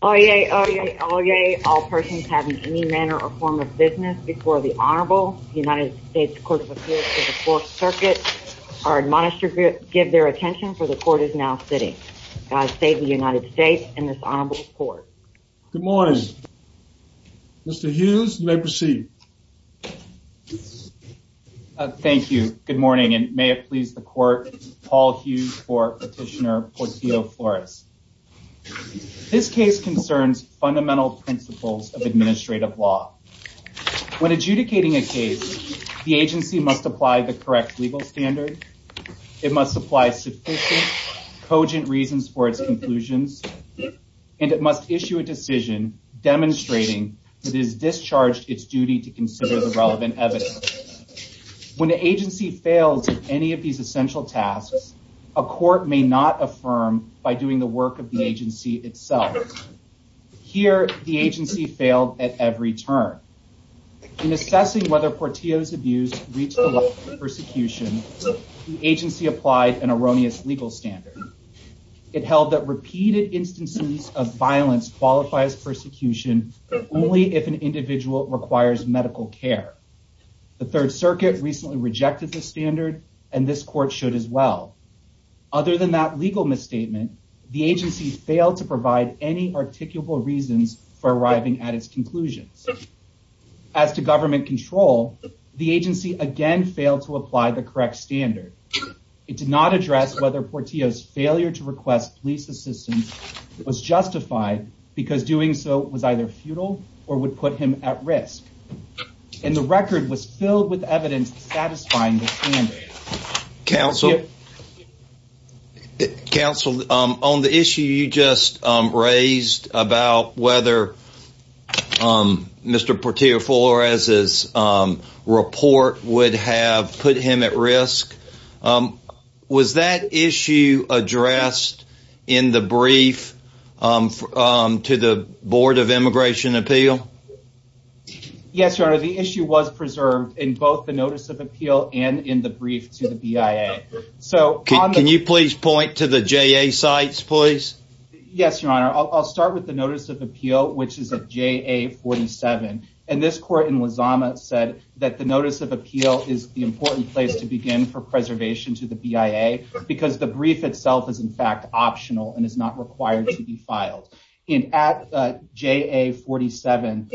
Oyez, oyez, oyez, all persons having any manner or form of business before the Honorable United States Court of Appeals of the Fourth Circuit are admonished to give their attention for the court is now sitting. God save the United States and this Honorable Court. Good morning. Mr. Hughes, you may proceed. Thank you. Good morning, and may it please the court, Paul Hughes v. Petitioner Portillo-Flores. This case concerns fundamental principles of administrative law. When adjudicating a case, the agency must apply the correct legal standards, it must apply sufficient, cogent reasons for its conclusions, and it must issue a decision demonstrating that it has discharged its duty to consider the relevant evidence. When the agency fails in any of these essential tasks, a court may not affirm by doing the work of the agency itself. Here, the agency failed at every turn. In assessing whether Portillo's abuse reached the level of persecution, the agency applied an erroneous legal standard. It held that repeated instances of violence qualifies persecution only if an individual requires medical care. The Third Circuit recently rejected this standard, and this court should as well. Other than that legal misstatement, the agency failed to provide any articulable reasons for arriving at its conclusions. As to government control, the agency again failed to apply the correct standard. It did not address whether Portillo's failure to request police assistance was justified because doing so was either futile or would put him at risk. And the record was filled with evidence satisfying this standard. Counsel, on the issue you just raised about whether Mr. Portillo Flores' report would have put him at risk, was that issue addressed in the brief to the Board of Immigration Appeal? Yes, Your Honor. The issue was preserved in both the Notice of Appeal and in the brief to the BIA. Can you please point to the JA sites, please? Yes, Your Honor. I'll start with the Notice of Appeal, which is of JA 47. And this court in Luzama said that the Notice of Appeal is the important place to begin for preservation to the BIA because the brief itself is in fact optional and is not required to be filed. And at JA 47,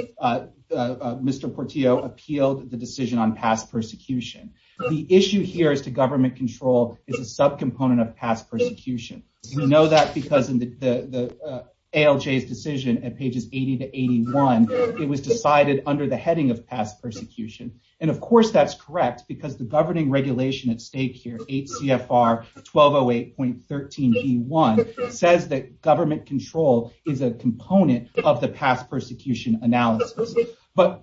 Mr. Portillo appealed the decision on past persecution. The issue here as to government control is a subcomponent of past persecution. You know that because in the ALJ's decision at pages 80 to 81, it was decided under the heading of past persecution. And of course that's correct because the governing regulation at stake here, 8 CFR 1208.13 G1, says that government control is a component of the past persecution analysis.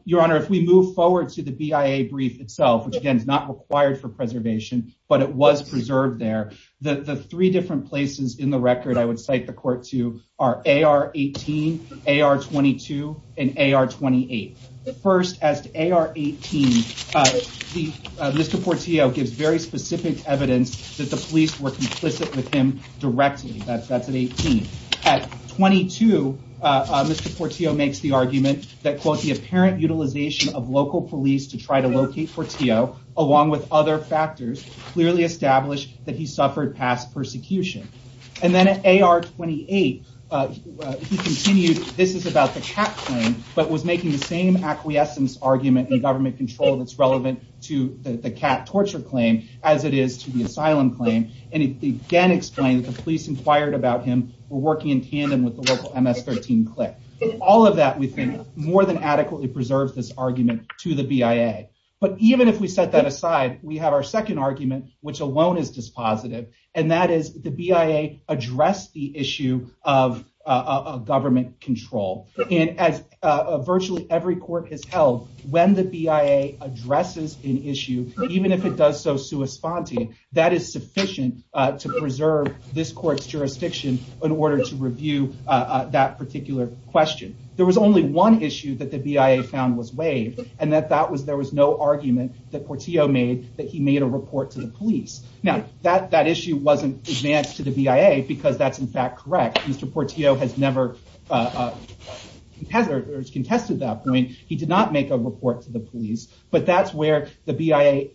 Your Honor, if we move forward to the BIA brief itself, which again is not required for preservation, but it was preserved there, the three different places in the record I would cite the court to are AR 18, AR 22, and AR 28. First, at AR 18, Mr. Portillo gives very specific evidence that the police were complicit with him directly. That's at 18. At 22, Mr. Portillo makes the argument that, quote, the apparent utilization of local police to try to locate Portillo, along with other factors, clearly established that he suffered past persecution. And then at AR 28, he continued, this is about the cat claim, but was making the same acquiescence argument in government control that's relevant to the cat torture claim as it is to the asylum claim. And he again explains the police inquired about him for working in tandem with the local MS-13 clique. All of that, we think, more than adequately preserves this argument to the BIA. But even if we set that aside, we have our second argument, which alone is dispositive, and that is the BIA addressed the issue of government control. And as virtually every court has held, when the BIA addresses an issue, even if it does so sui fonte, that is sufficient to preserve this court's jurisdiction in order to review that particular question. There was only one issue that the BIA found was vague, and that was there was no argument that Portillo made that he made a report to the police. Now, that issue wasn't advanced to the BIA because that's, in fact, correct. Mr. Portillo has never contested that point. He did not make a report to the police, but that's where the BIA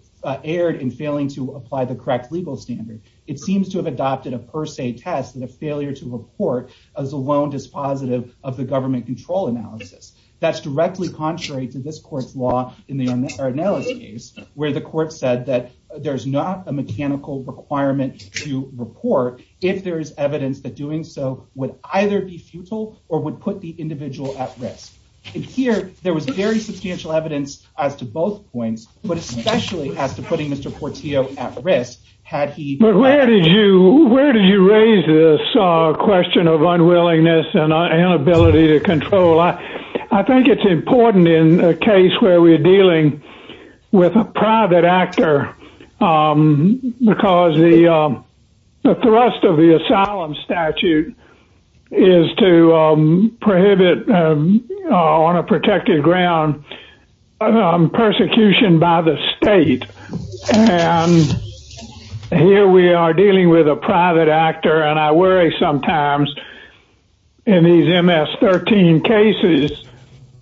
erred in failing to apply the correct legal standard. It seems to have adopted a per se test as a failure to report as alone dispositive of the government control analysis. That's directly contrary to this court's law in the analysis case, where the court said that there's not a mechanical requirement to report if there is evidence that doing so would either be futile or would put the individual at risk. Here, there was very substantial evidence as to both points, but especially as to putting Mr. Portillo at risk. Where did you raise this question of unwillingness and inability to control? I think it's important in a case where we're dealing with a private actor because the thrust of the asylum statute is to prohibit, on a protected ground, persecution by the state. Here, we are dealing with a private actor, and I worry sometimes in these MS-13 cases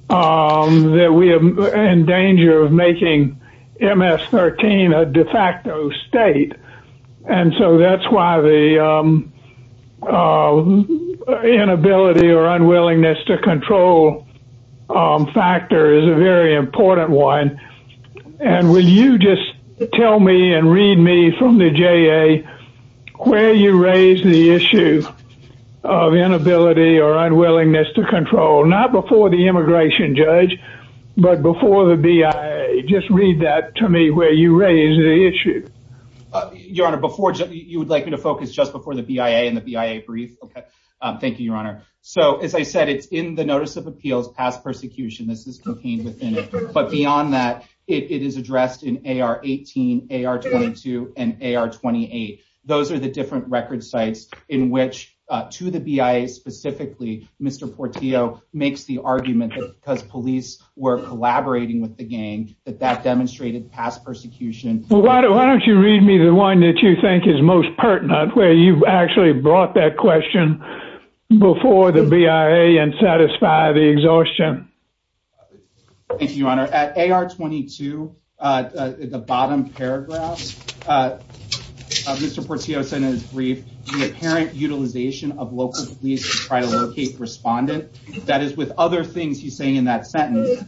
that we are in danger of making MS-13 a de facto state. That's why the inability or unwillingness to control factor is a very important one. Will you just tell me and read me from the JA where you raised the issue of inability or unwillingness to control? Not before the immigration judge, but before the BIA. Just read that to me where you raised the issue. Your Honor, you would like me to focus just before the BIA and the BIA brief? Okay. Thank you, Your Honor. So, as I said, it's in the Notice of Appeals, Past Persecution. This is contained within, but beyond that, it is addressed in AR-18, AR-22, and AR-28. Those are the different record sites in which, to the BIA specifically, Mr. Portillo makes the argument that because police were collaborating with the gang, that that demonstrated past persecution. Why don't you read me the one that you think is most pertinent, where you actually brought that question before the BIA and satisfied the exhaustion? Thank you, Your Honor. At AR-22, the bottom paragraph of Mr. Portillo's sentence brief, the apparent utilization of local police to try to locate respondents. That is, with other things he's saying in that sentence,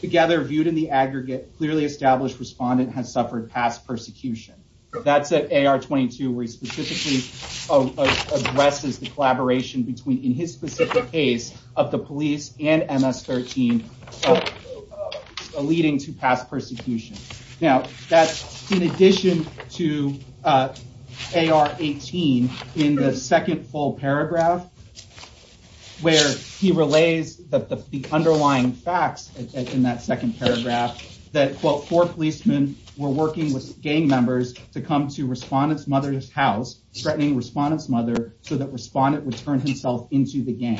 together, viewed in the aggregate, clearly established respondents have suffered past persecution. That's at AR-22, where he specifically addresses the collaboration between, in his specific case, of the police and MS-13, leading to past persecution. Now, in addition to AR-18, in the second full paragraph, where he relays the underlying facts in that second paragraph, that, quote, four policemen were working with gang members to come to Respondent's mother's house, threatening Respondent's mother so that Respondent would turn himself into the gang.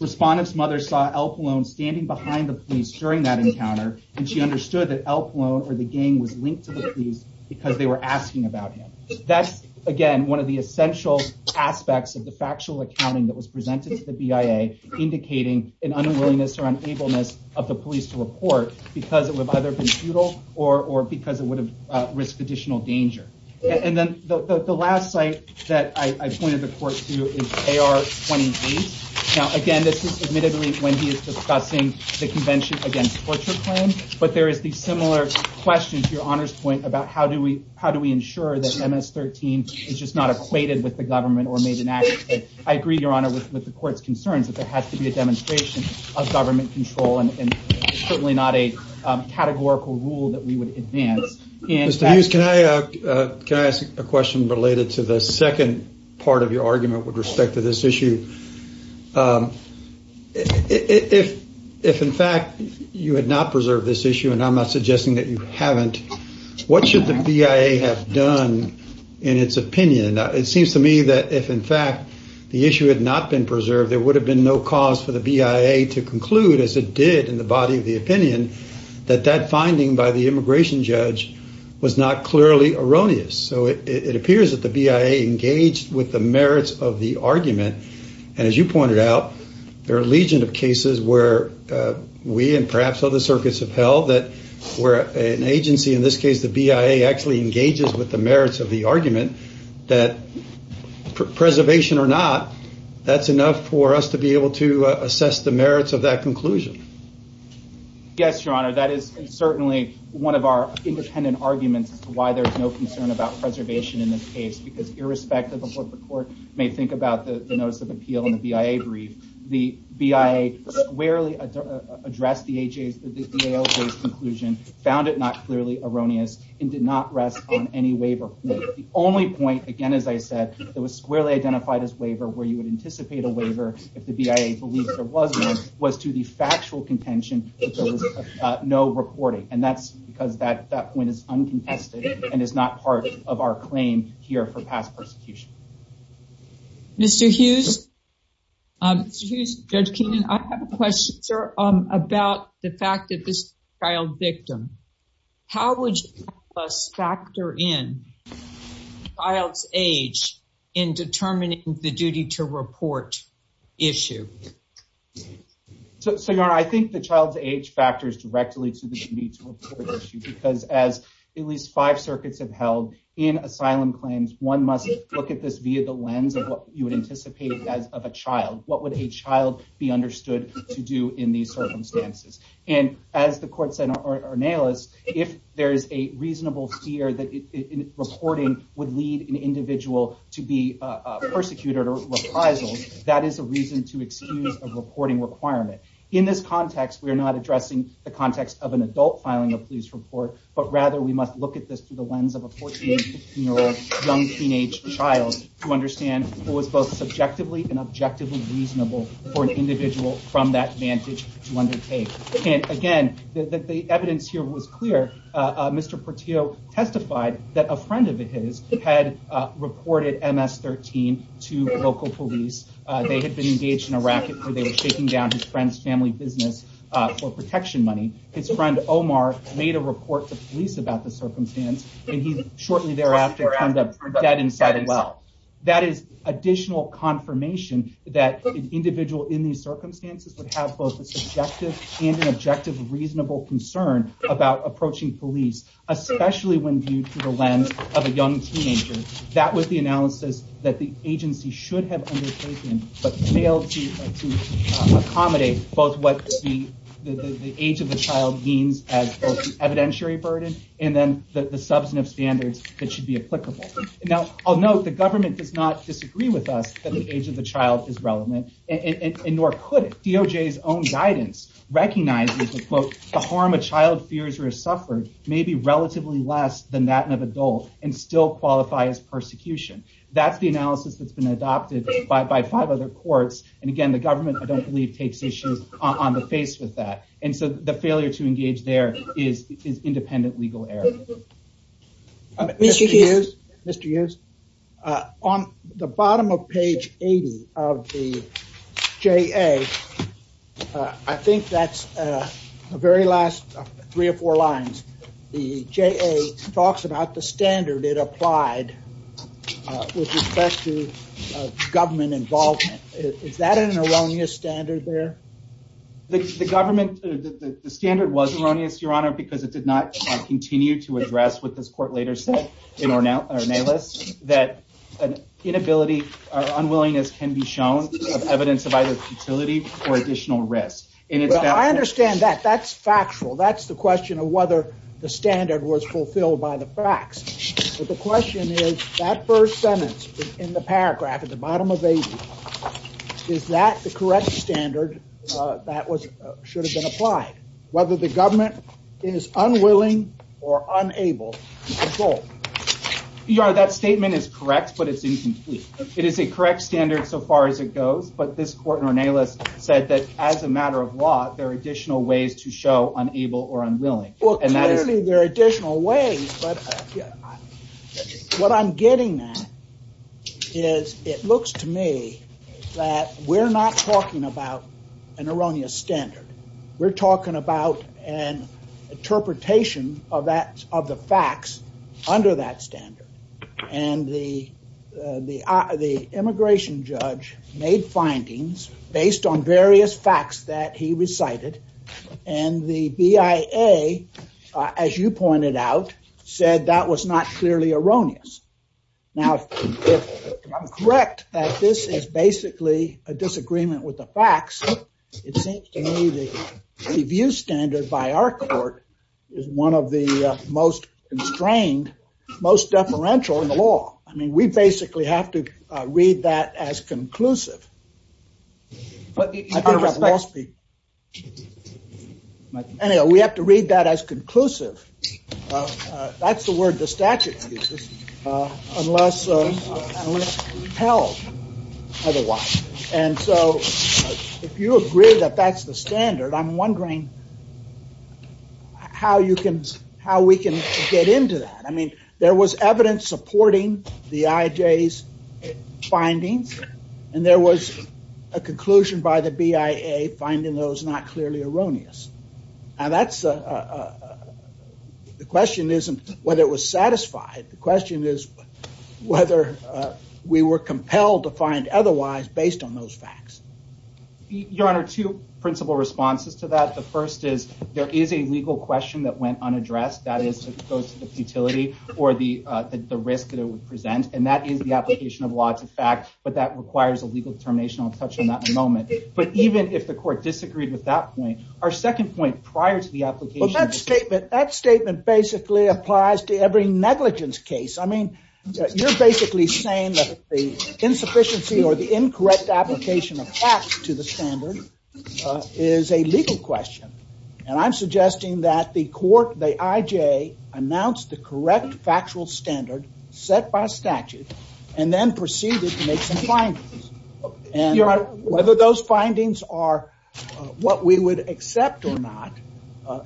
Respondent's mother saw Elfalone standing behind the police during that encounter, and she understood that Elfalone, or the gang, was linked to the police because they were asking about him. That's, again, one of the essential aspects of the factual accounting that was presented to the BIA, indicating an unwillingness or unableness of the police to report because it would have either been futile or because it would have risked additional danger. And then the last site that I pointed the court to is AR-28. Now, again, this is admittedly when he is discussing the Convention Against Torture Claims, but there is a similar question, to Your Honor's point, about how do we ensure that MS-13 is just not equated with the government or made inadequate. I agree, Your Honor, with the court's concerns that there has to be a demonstration of government control and certainly not a categorical rule that we would advance. Mr. Hughes, can I ask a question related to the second part of your argument with respect to this issue? If, in fact, you had not preserved this issue, and I'm not suggesting that you haven't, what should the BIA have done in its opinion? It seems to me that if, in fact, the issue had not been preserved, there would have been no cause for the BIA to conclude, as it did in the body of the opinion, that that finding by the immigration judge was not clearly erroneous. So it appears that the BIA engaged with the merits of the argument, and as you pointed out, there are a legion of cases where we and perhaps other circuits have held that where an agency, in this case the BIA, actually engages with the merits of the argument that preservation or not, that's enough for us to be able to assess the merits of that conclusion. Yes, Your Honor, that is certainly one of our independent arguments as to why there's no concern about preservation in this case, because irrespective of what the court may think about the notice of appeal and the BIA brief, the BIA squarely addressed the ALJ's conclusion, found it not clearly erroneous, and did not rest on any waiver. The only point, again, as I said, that was squarely identified as waiver, where you would anticipate a waiver if the BIA believed there was one, was to the factual contention that there was no reporting, and that's because that point is uncontested and is not part of our claim here for past prosecution. Mr. Hughes, Judge Keenan, I have a question, sir, about the fact that this is a child victim. How would you factor in a child's age in determining the duty to report issue? So, Your Honor, I think the child's age factors directly to the duty to report issue, because as at least five circuits have held in asylum claims, one must look at this via the lens of what you anticipate as of a child. What would a child be understood to do in these circumstances? And as the court said in Arnelis, if there is a reasonable fear that reporting would lead an individual to be persecuted or reprisal, that is a reason to excuse a reporting requirement. In this context, we are not addressing the context of an adult filing a police report, but rather we must look at this through the lens of a 14- to 16-year-old young teenage child to understand what was both subjectively and objectively reasonable for an individual from that vantage point to undertake. And again, the evidence here was clear. Mr. Portillo testified that a friend of his had reported MS-13 to local police. They had been engaged in a racket where they were taking down his friend's family business for protection money. His friend Omar made a report to police about the circumstance, and he shortly thereafter turned up dead inside a well. That is additional confirmation that an individual in these circumstances would have both a subjective and an objective reasonable concern about approaching police, especially when viewed through the lens of a young teenager. That was the analysis that the agency should have undertaken, but failed to accommodate both what the age of the child means as evidentiary burden and then the substantive standards that should be applicable. Now, I'll note the government does not disagree with us that the age of the child is relevant, and nor could it. DOJ's own guidance recognizes that, quote, the harm a child fears or has suffered may be relatively less than that of an adult and still qualify as persecution. That's the analysis that's been adopted by five other courts, and again, the government eventually takes issue on the face with that. And so the failure to engage there is independent legal error. Mr. Hughes, on the bottom of page 80 of the JA, I think that's the very last three or four lines, the JA talks about the standard it applied with respect to government involvement. Is that an erroneous standard there? The standard was erroneous, Your Honor, because it did not continue to address what this court later said in Ornelas, that an inability or unwillingness can be shown as evidence of either futility or additional risk. I understand that. That's factual. That's the question of whether the standard was fulfilled by the facts. But the question is, that first sentence in the paragraph at the bottom of page 80, is that the correct standard that should have been applied? Whether the government is unwilling or unable to control. Your Honor, that statement is correct, but it's incomplete. It is a correct standard so far as it goes, but this court in Ornelas said that as a matter of law, there are additional ways to show unable or unwilling. Well, clearly there are additional ways, but what I'm getting at is it looks to me that we're not talking about an erroneous standard. We're talking about an interpretation of the facts under that standard. And the immigration judge made findings based on various facts that he recited, and the BIA, as you pointed out, said that was not clearly erroneous. Now, if I'm correct, that this is basically a disagreement with the facts, it seems to me the review standard by our court is one of the most constrained, most deferential in the law. I mean, we basically have to read that as conclusive. I think I've lost people. Anyway, we have to read that as conclusive. That's the word the statute uses, unless held otherwise. And so if you agree that that's the standard, I'm wondering how we can get into that. I mean, there was evidence supporting the IJ's finding, and there was a conclusion by the BIA finding that it was not clearly erroneous. Now, the question isn't whether it was satisfied. The question is whether we were compelled to find otherwise based on those facts. Your Honor, two principal responses to that. The first is there is a legal question that went unaddressed, that is, if it goes to the futility or the risk that it would present, and that is the application of laws of fact, but that requires a legal determination I'll touch on that in a moment. But even if the court disagreed with that point, our second point prior to the application… That statement basically applies to every negligence case. I mean, you're basically saying that the insufficiency or the incorrect application of facts to the standard is a legal question, and I'm suggesting that the court, the IJ, announced the correct factual standard set by statute and then proceeded to make some findings. Your Honor, whether those findings are what we would accept or not,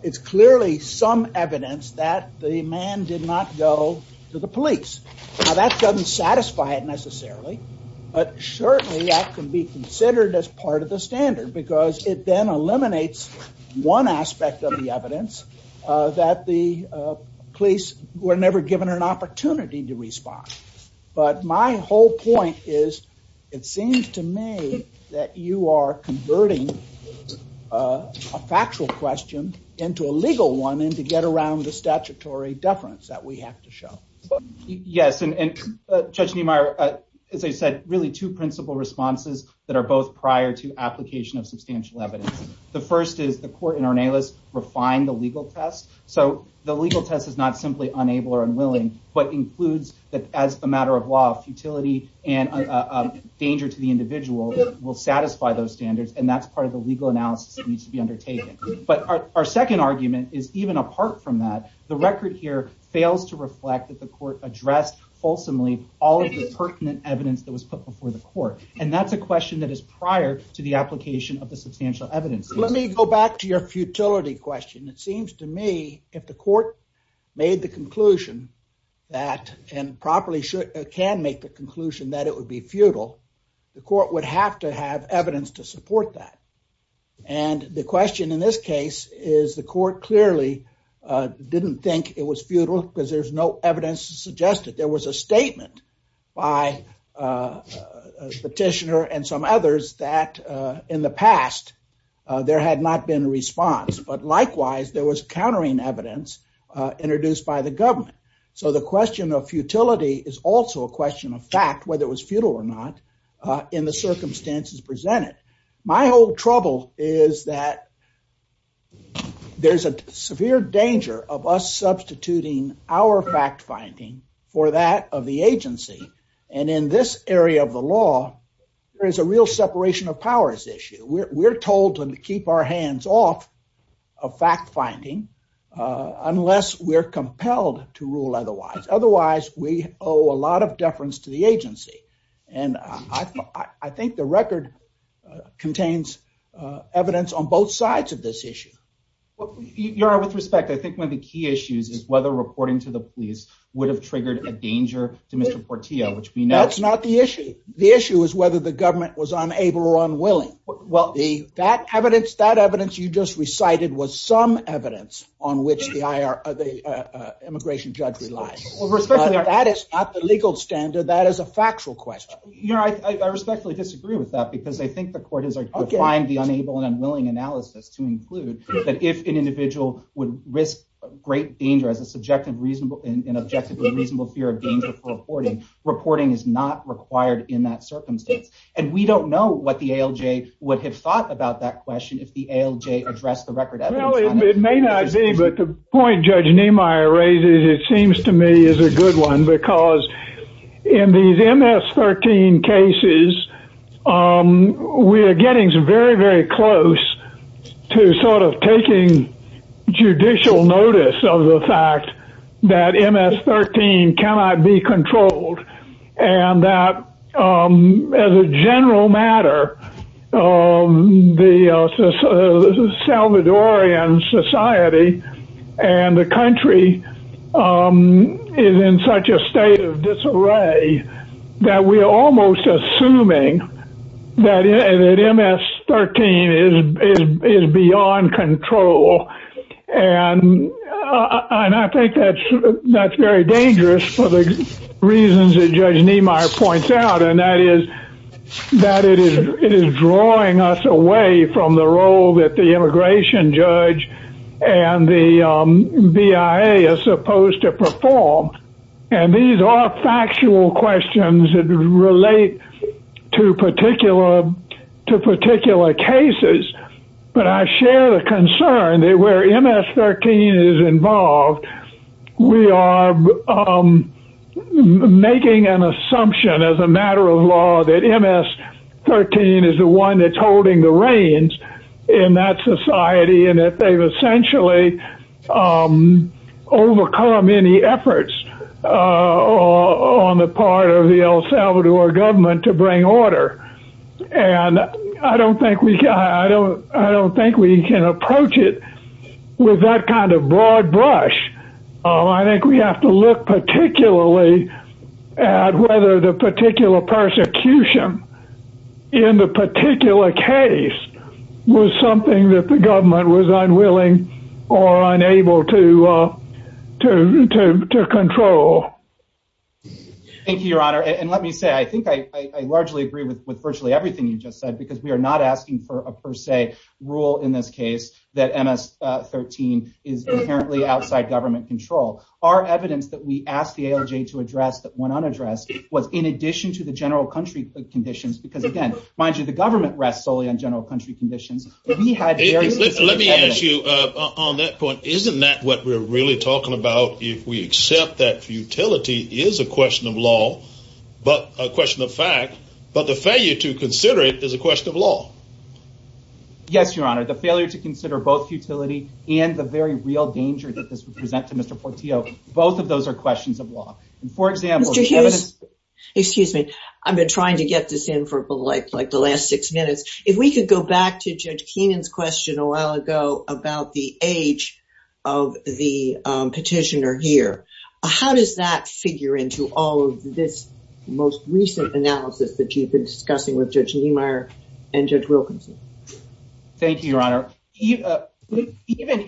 it's clearly some evidence that the man did not go to the police. Now, that doesn't satisfy it necessarily, but certainly that can be considered as part of the standard because it then eliminates one aspect of the evidence that the police were never given an opportunity to respond. But my whole point is it seems to me that you are converting a factual question into a legal one and to get around the statutory deference that we have to show. Yes, and Judge Niemeyer, as I said, really two principal responses that are both prior to application of substantial evidence. The first is the court in Ornelas refined the legal test, so the legal test is not simply unable or unwilling, but includes that as a matter of law, futility and danger to the individual will satisfy those standards, and that's part of the legal analysis that needs to be undertaken. But our second argument is even apart from that, the record here fails to reflect that the court addressed ultimately all of the pertinent evidence that was put before the court, and that's a question that is prior to the application of the substantial evidence. Let me go back to your futility question. It seems to me if the court made the conclusion that and properly can make the conclusion that it would be futile, the court would have to have evidence to support that. And the question in this case is the court clearly didn't think it was futile because there's no evidence to suggest that there was a statement by a petitioner and some others that in the past there had not been a response, but likewise there was countering evidence introduced by the government. So the question of futility is also a question of fact, whether it was futile or not, in the circumstances presented. My whole trouble is that there's a severe danger of us substituting our fact-finding for that of the agency, and in this area of the law there's a real separation of powers issue. We're told to keep our hands off of fact-finding unless we're compelled to rule otherwise. Otherwise, we owe a lot of deference to the agency, and I think the record contains evidence on both sides of this issue. Your Honor, with respect, I think one of the key issues is whether reporting to the police would have triggered a danger to Mr. Portillo, which we know— Well, that evidence you just recited was some evidence on which the immigration judge relies. That is not the legal standard. That is a factual question. Your Honor, I respectfully disagree with that, because I think the court has defined the unable and unwilling analysis to include that if an individual would risk great danger as an objective and reasonable fear of danger for reporting, reporting is not required in that circumstance. And we don't know what the ALJ would have thought about that question if the ALJ addressed the record as it was. Well, it may not be, but the point Judge Niemeyer raises, it seems to me, is a good one, because in these MS-13 cases, we are getting very, very close to sort of taking judicial notice of the fact that MS-13 cannot be controlled, and that, as a general matter, the Salvadorian society and the country is in such a state of disarray that we are almost assuming that MS-13 is beyond control. And I think that's very dangerous for the reasons that Judge Niemeyer points out, and that is that it is drawing us away from the role that the immigration judge and the BIA are supposed to perform. And these are factual questions that relate to particular cases, but I share the concern that where MS-13 is involved, we are making an assumption as a matter of law that MS-13 is the one that's holding the reins in that society, and that they've essentially overcome any efforts on the part of the El Salvador government to bring order, and I don't think we can approach it with that kind of broad brush. I think we have to look particularly at whether the particular persecution in the particular case was something that the government was unwilling or unable to control. Thank you, Your Honor, and let me say, I think I largely agree with virtually everything you just said, because we are not asking for a per se rule in this case that MS-13 is inherently outside government control. Our evidence that we asked the ALJ to address that went unaddressed was in addition to the general country conditions, because, again, mind you, the government rests solely on general country conditions. Let me ask you, on that point, isn't that what we're really talking about if we accept that futility is a question of law, but a question of fact, but the failure to consider it is a question of law? Yes, Your Honor, the failure to consider both futility and the very real danger that this would present to Mr. Portillo, both of those are questions of law. Excuse me, I've been trying to get this in for the last six minutes. If we could go back to Judge Keenan's question a while ago about the age of the petitioner here, how does that figure into all of this most recent analysis that you've been discussing with Judge Niemeyer and Judge Wilkinson? Thank you, Your Honor. Even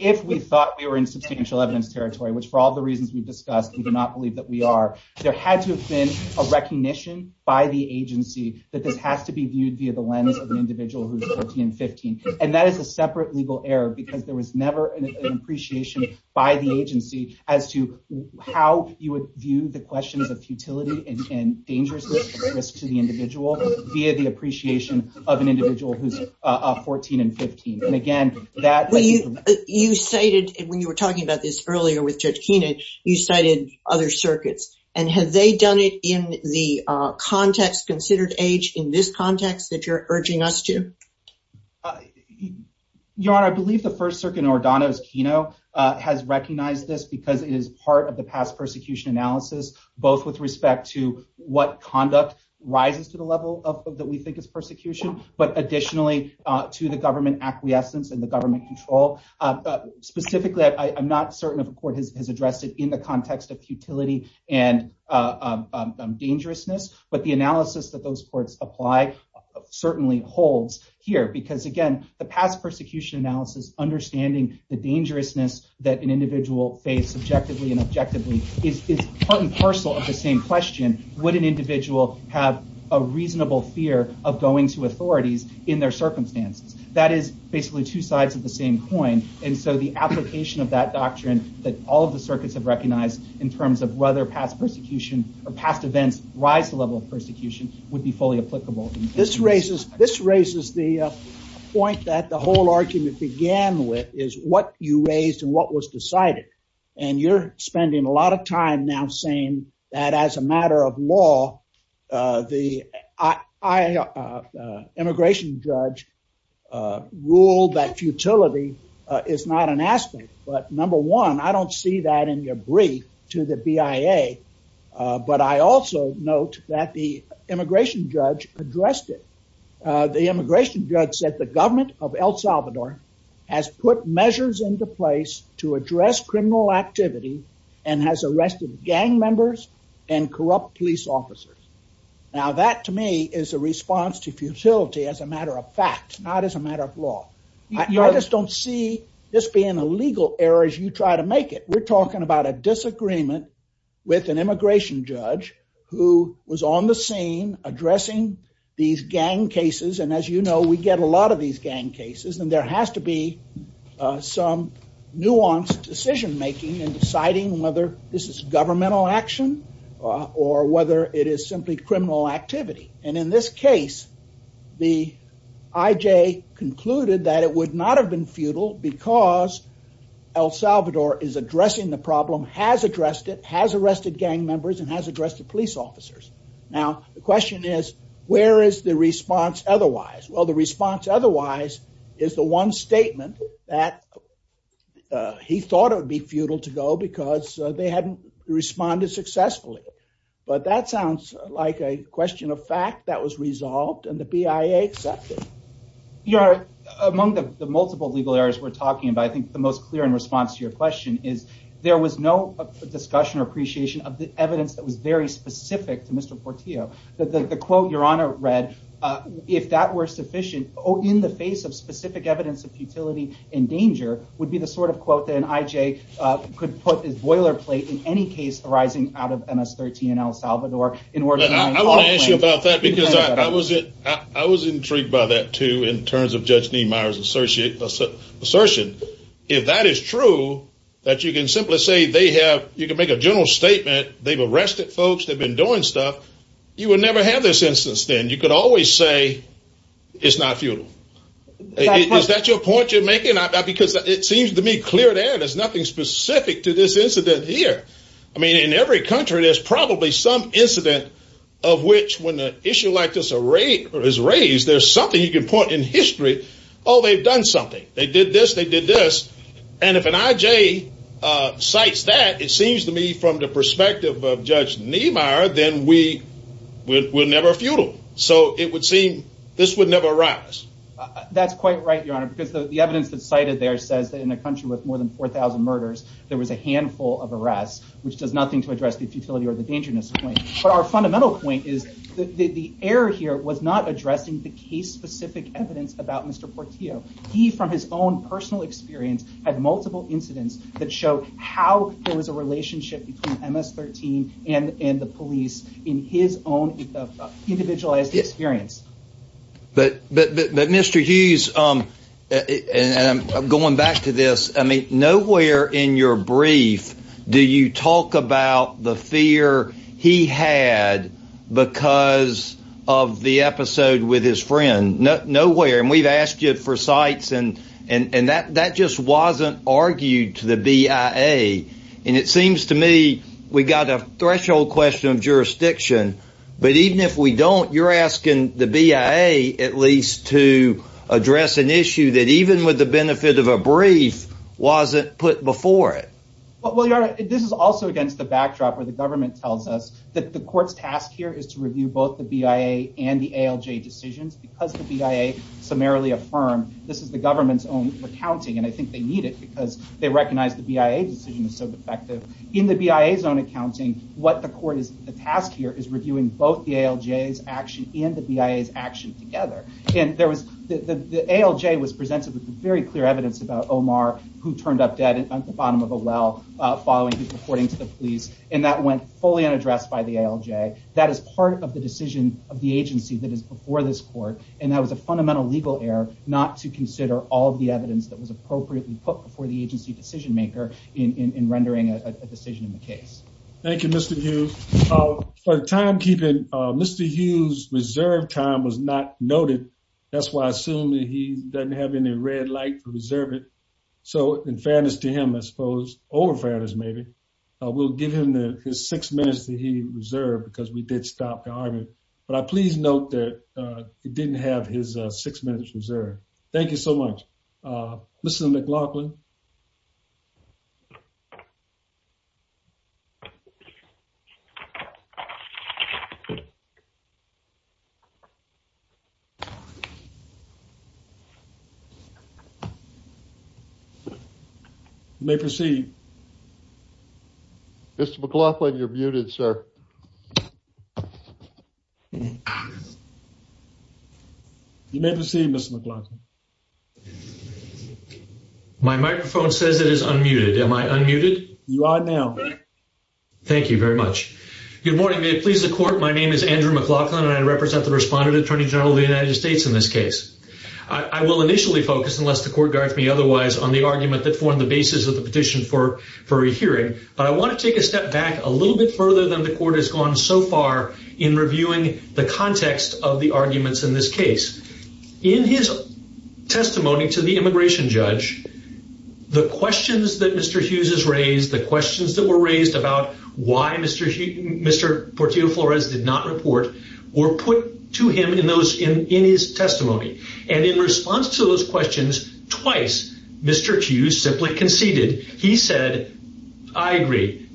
if we thought we were in substantial evidence territory, which for all the reasons we've discussed, we do not believe that we are, there had to have been a recognition by the agency that this has to be viewed via the lens of an individual who is 13 and 15. And that is a separate legal error because there was never an appreciation by the agency as to how you would view the question of futility and danger to the individual via the appreciation of an individual who is 14 and 15. And again, that… You cited, when you were talking about this earlier with Judge Keenan, you cited other circuits. And have they done it in the context considered age in this context that you're urging us to? Your Honor, I believe the First Circuit in Ordano's keynote has recognized this because it is part of the past persecution analysis, both with respect to what conduct rises to the level that we think is persecution, but additionally to the government acquiescence and the government control. Specifically, I'm not certain if the court has addressed it in the context of futility and dangerousness, but the analysis that those courts apply certainly holds here. Because again, the past persecution analysis, understanding the dangerousness that an individual faced objectively and objectively, is part and parcel of the same question. Would an individual have a reasonable fear of going to authorities in their circumstance? That is basically two sides of the same coin. And so the application of that doctrine that all of the circuits have recognized in terms of whether past persecution or past events rise to the level of persecution would be fully applicable. This raises the point that the whole argument began with is what you raised and what was decided. And you're spending a lot of time now saying that as a matter of law, the immigration judge ruled that futility is not an aspect. But number one, I don't see that in your brief to the BIA, but I also note that the immigration judge addressed it. The immigration judge said the government of El Salvador has put measures into place to address criminal activity and has arrested gang members and corrupt police officers. Now, that to me is a response to futility as a matter of fact, not as a matter of law. I just don't see this being a legal error as you try to make it. We're talking about a disagreement with an immigration judge who was on the scene addressing these gang cases. And as you know, we get a lot of these gang cases. And there has to be some nuanced decision making in deciding whether this is governmental action or whether it is simply criminal activity. And in this case, the IJ concluded that it would not have been futile because El Salvador is addressing the problem, has addressed it, has arrested gang members, and has addressed the police officers. Now, the question is, where is the response otherwise? Well, the response otherwise is the one statement that he thought it would be futile to go because they hadn't responded successfully. But that sounds like a question of fact that was resolved and the BIA accepted it. Your Honor, among the multiple legal errors we're talking about, I think the most clear in response to your question is there was no discussion or appreciation of the evidence that was very specific to Mr. Portillo. The quote your Honor read, if that were sufficient, in the face of specific evidence of futility and danger, would be the sort of quote that an IJ could put as boilerplate in any case arising out of MS-13 in El Salvador. I want to ask you about that because I was intrigued by that too in terms of Judge Dean Meyer's assertion. If that is true, that you can simply say they have, you can make a general statement, they've arrested folks, they've been doing stuff, you would never have this instance then. You could always say it's not futile. Is that your point you're making? Because it seems to me clear there, there's nothing specific to this incident here. I mean in every country there's probably some incident of which when an issue like this is raised, there's something you can point in history, oh they've done something. They did this, they did this, and if an IJ cites that, it seems to me from the perspective of Judge Neimeyer, then we're never futile. So it would seem this would never arise. That's quite right, Your Honor, because the evidence that's cited there says that in a country with more than 4,000 murders, there was a handful of arrests, which does nothing to address the futility or the danger in this case. But our fundamental point is that the error here was not addressing the case-specific evidence about Mr. Portillo. He, from his own personal experience, had multiple incidents that show how there was a relationship between MS-13 and the police in his own individualized experience. But Mr. Hughes, going back to this, I mean nowhere in your brief do you talk about the fear he had because of the episode with his friend. Nowhere. And we've asked you for sites and that just wasn't argued to the BIA. And it seems to me we've got a threshold question of jurisdiction, but even if we don't, you're asking the BIA at least to address an issue that even with the benefit of a brief wasn't put before it. Well, Your Honor, this is also against the backdrop where the government tells us that the court's task here is to review both the BIA and the ALJ decisions. Because the BIA summarily affirmed this is the government's own accounting, and I think they need it because they recognize the BIA decision is so defective. In the BIA's own accounting, what the court has asked here is reviewing both the ALJ's action and the BIA's action together. The ALJ was presented with very clear evidence about Omar who turned up dead at the bottom of a well following his reporting to the police, and that went fully unaddressed by the ALJ. That is part of the decision of the agency that is before this court, and that was a fundamental legal error not to consider all of the evidence that was appropriately put before the agency decision maker in rendering a decision in the case. Thank you, Mr. Hughes. For timekeeping, Mr. Hughes' reserved time was not noted. That's why I assume that he doesn't have any red light to reserve it. So, in fairness to him, I suppose, or in fairness, maybe, we'll give him his six minutes that he reserved because we did stop the argument. But please note that he didn't have his six minutes reserved. Thank you so much. Mr. McLaughlin? You may proceed. Mr. McLaughlin, you're muted, sir. You may proceed, Mr. McLaughlin. My microphone says it is unmuted. Am I unmuted? You are now. Thank you very much. Good morning. May it please the court. My name is Andrew McLaughlin, and I represent the Respondent Attorney General of the United States in this case. I will initially focus, unless the court directs me otherwise, on the argument that formed the basis of the petition for a hearing, but I want to take a step back a little bit further than the court has gone so far in reviewing the context of the arguments in this case. In his testimony to the immigration judge, the questions that Mr. Hughes has raised, the questions that were raised about why Mr. Portillo-Flores did not report, were put to him in his testimony. And in response to those questions, twice, Mr. Hughes simply conceded. He said, I agree.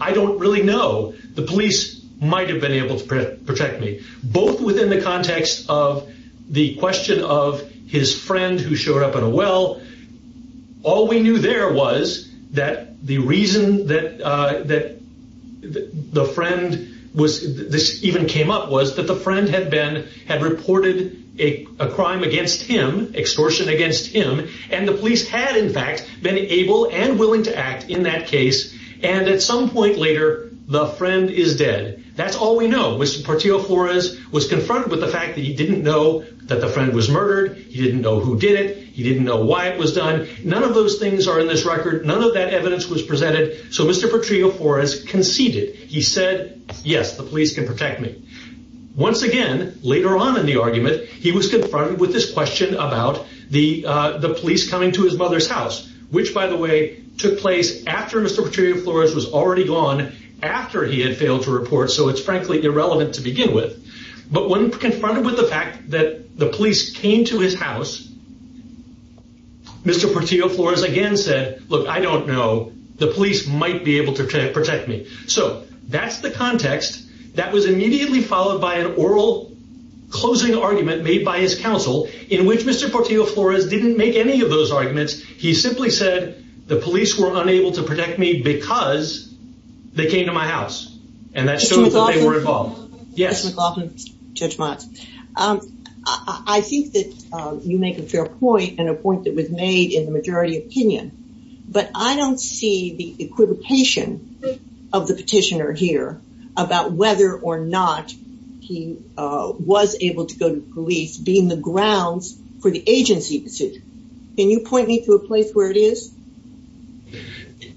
I don't really know. The police might have been able to protect me. Both within the context of the question of his friend who showed up in a well, all we knew there was that the reason that the friend even came up was that the friend had reported a crime against him, extortion against him, and the police had, in fact, been able and willing to act in that case, and at some point later, the friend is dead. That's all we know. Mr. Portillo-Flores was confronted with the fact that he didn't know that the friend was murdered, he didn't know who did it, he didn't know why it was done. None of those things are in this record. None of that evidence was presented. So Mr. Portillo-Flores conceded. He said, yes, the police can protect me. Once again, later on in the argument, he was confronted with this question about the police coming to his mother's house, which, by the way, took place after Mr. Portillo-Flores was already gone, after he had failed to report, so it's frankly irrelevant to begin with. But when confronted with the fact that the police came to his house, Mr. Portillo-Flores again said, look, I don't know. The police might be able to protect me. So that's the context. That was immediately followed by an oral closing argument made by his counsel in which Mr. Portillo-Flores didn't make any of those arguments. He simply said the police were unable to protect me because they came to my house, and that showed that they were involved. I think that you make a fair point and a point that was made in the majority opinion, but I don't see the equivocation of the petitioner here about whether or not he was able to go to police being the grounds for the agency petition. Can you point me to a place where it is?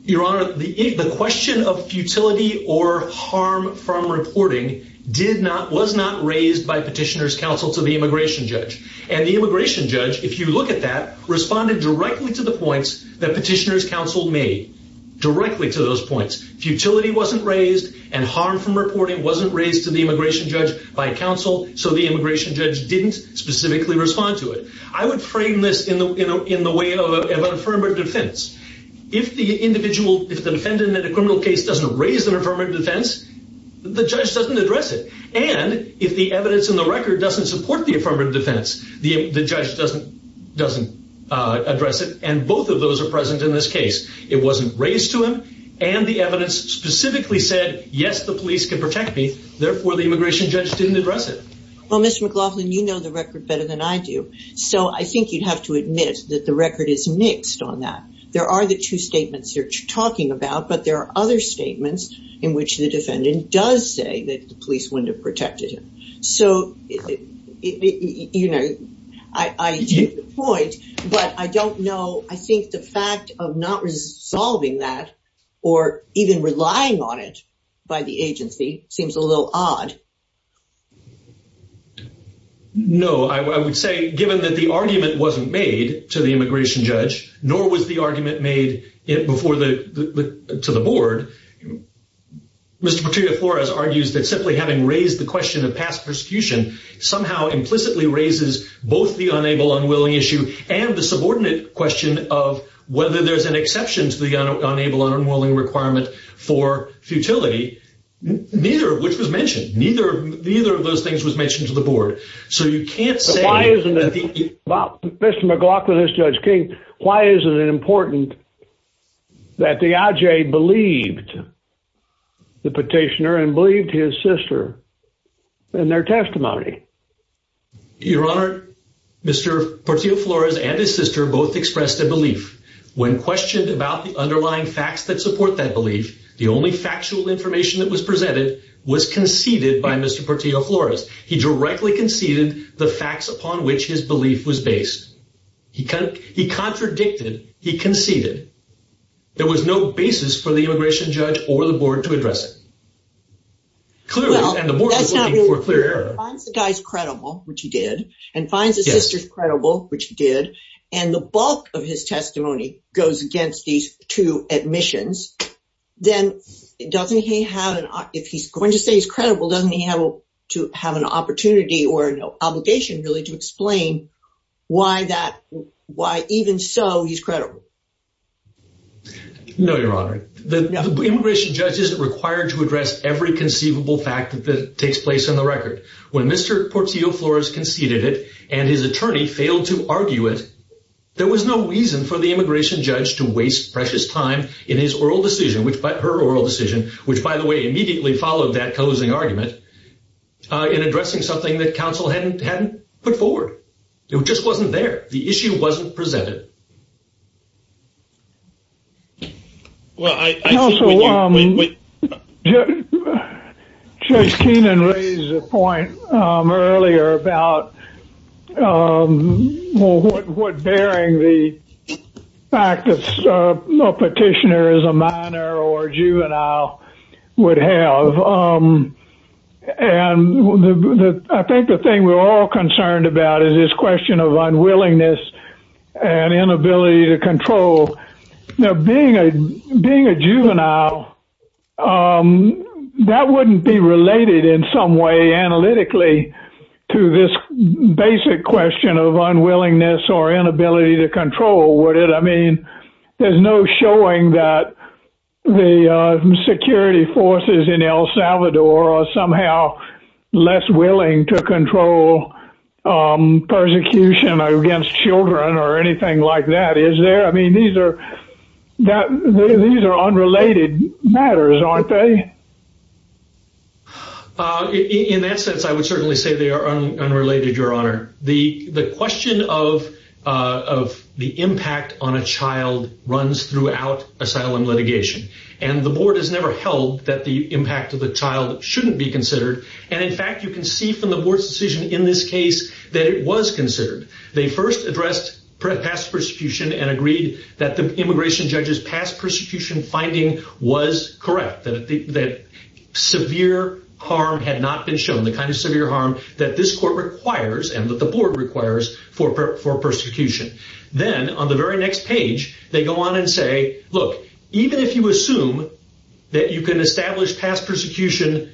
Your Honor, the question of futility or harm from reporting was not raised by Petitioner's Counsel to the immigration judge. And the immigration judge, if you look at that, responded directly to the points that Petitioner's Counsel made. Directly to those points. Futility wasn't raised and harm from reporting wasn't raised to the immigration judge by counsel, so the immigration judge didn't specifically respond to it. I would frame this in the way of affirmative defense. If the defendant in a criminal case doesn't raise their affirmative defense, the judge doesn't address it. And if the evidence in the record doesn't support the affirmative defense, the judge doesn't address it, and both of those are present in this case. It wasn't raised to him, and the evidence specifically said, yes, the police can protect me, therefore the immigration judge didn't address it. Well, Ms. McLaughlin, you know the record better than I do, so I think you'd have to admit that the record is mixed on that. There are the two statements you're talking about, but there are other statements in which the defendant does say that the police wouldn't have protected him. So, you know, I get the point, but I don't know, I think the fact of not resolving that or even relying on it by the agency seems a little odd. No, I would say, given that the argument wasn't made to the immigration judge, nor was the argument made to the board, Mr. Petito-Forez argues that simply having raised the question of past persecution somehow implicitly raises both the unable-unwilling issue and the subordinate question of whether there's an exception to the unable-unwilling requirement for futility, which was mentioned, neither of those things was mentioned to the board. So you can't say that the... Mr. McLaughlin, this is Judge King. Why is it important that the adjaye believed the petitioner and believed his sister in their testimony? Your Honor, Mr. Petito-Forez and his sister both expressed a belief. When questioned about the underlying facts that support that belief, the only factual information that was presented was conceded by Mr. Petito-Forez. He directly conceded the facts upon which his belief was based. He contradicted, he conceded. There was no basis for the immigration judge or the board to address it. Clearly, and the board was waiting for clear evidence. If he finds the guy's credible, which he did, and finds his sister's credible, which he did, and the bulk of his testimony goes against these two admissions, then doesn't he have an... If he's going to say he's credible, doesn't he have to have an opportunity or an obligation really to explain why even so he's credible? No, Your Honor. The immigration judge isn't required to address every conceivable fact that takes place in the record. When Mr. Petito-Forez conceded it and his attorney failed to argue it, there was no reason for the immigration judge to waste precious time in his oral decision, her oral decision, which, by the way, immediately followed that closing argument, in addressing something that counsel hadn't put forward. It just wasn't there. The issue wasn't presented. Counsel, Judge Keenan raised a point earlier about what bearing the fact that a petitioner is a minor or a juvenile would have. I think the thing we're all concerned about is this question of unwillingness and inability to control. Being a juvenile, that wouldn't be related in some way analytically to this basic question of unwillingness or inability to control, would it? I mean, there's no showing that the security forces in El Salvador are somehow less willing to control persecution against children or anything like that, is there? I mean, these are unrelated matters, aren't they? In that sense, I would certainly say they are unrelated, Your Honor. The question of the impact on a child runs throughout asylum litigation. And the board has never held that the impact of the child shouldn't be considered. And, in fact, you can see from the board's decision in this case that it was considered. They first addressed past persecution and agreed that the immigration judge's past persecution finding was correct, that severe harm had not been shown, the kind of severe harm that this court requires and that the board requires for persecution. Then, on the very next page, they go on and say, look, even if you assume that you can establish past persecution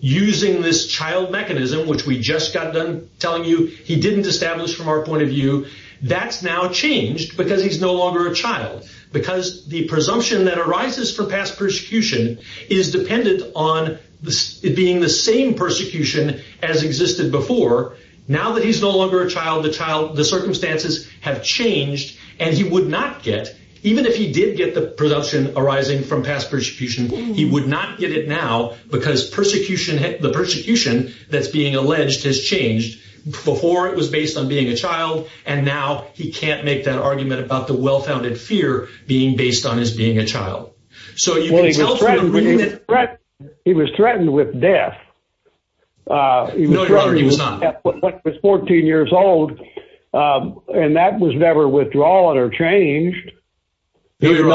using this child mechanism, which we just got done telling you he didn't establish from our point of view, that's now changed because he's no longer a child. Because the presumption that arises from past persecution is dependent on it being the same persecution as existed before. Now that he's no longer a child, the circumstances have changed and he would not get, even if he did get the presumption arising from past persecution, he would not get it now because the persecution that's being alleged has changed. Before, it was based on being a child, and now he can't make that argument about the well-founded fear being based on his being a child. So he was threatened with death. He was 14 years old, and that was never withdrawn or changed. He did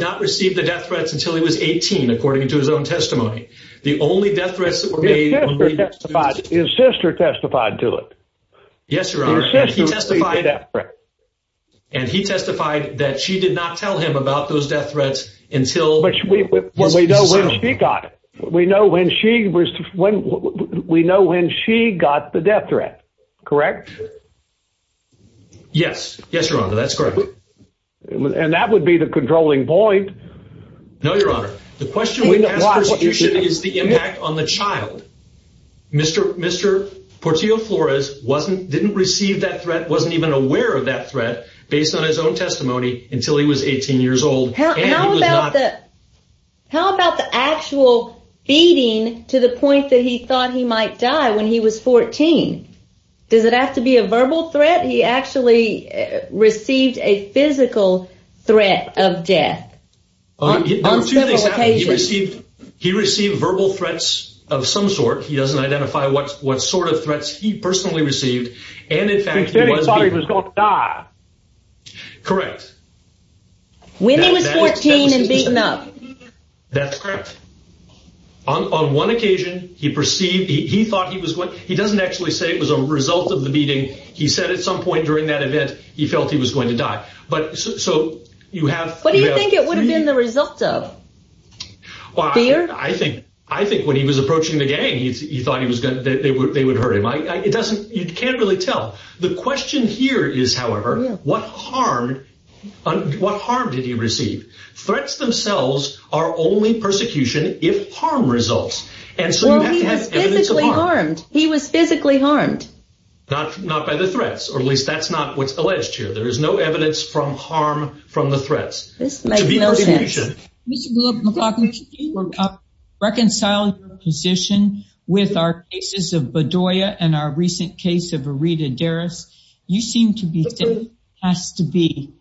not receive the death threat until he was 18, according to his own testimony. His sister testified to it. Yes, Your Honor. His sister received the death threat. And he testified that she did not tell him about those death threats until... But we know when she got it. We know when she got the death threat, correct? Yes. Yes, Your Honor, that's correct. And that would be the controlling point. No, Your Honor. The question of the past persecution is the impact on the child. Mr. Portillo Flores didn't receive that threat, wasn't even aware of that threat, based on his own testimony, until he was 18 years old. How about the actual feeding to the point that he thought he might die when he was 14? Does it have to be a verbal threat? Or was it that he actually received a physical threat of death? On two occasions. He received verbal threats of some sort. He doesn't identify what sort of threats he personally received, and in fact... He said he thought he was going to die. Correct. When he was 14 and beaten up. That's correct. On one occasion, he thought he was going... He doesn't actually say it was a result of the beating. He said at some point during that event he felt he was going to die. So you have... What do you think it would have been the result of? I think when he was approaching the gang, he thought they would hurt him. You can't really tell. The question here is, however, what harm did he receive? Threats themselves are only persecution if harm results. Well, he was physically harmed. Not by the threats. Or at least that's not what's alleged here. There is no evidence from harm from the threats. This makes no sense. Reconciling your position with our cases of Bedoya and our recent case of Aretha Deris. You seem to think there has to be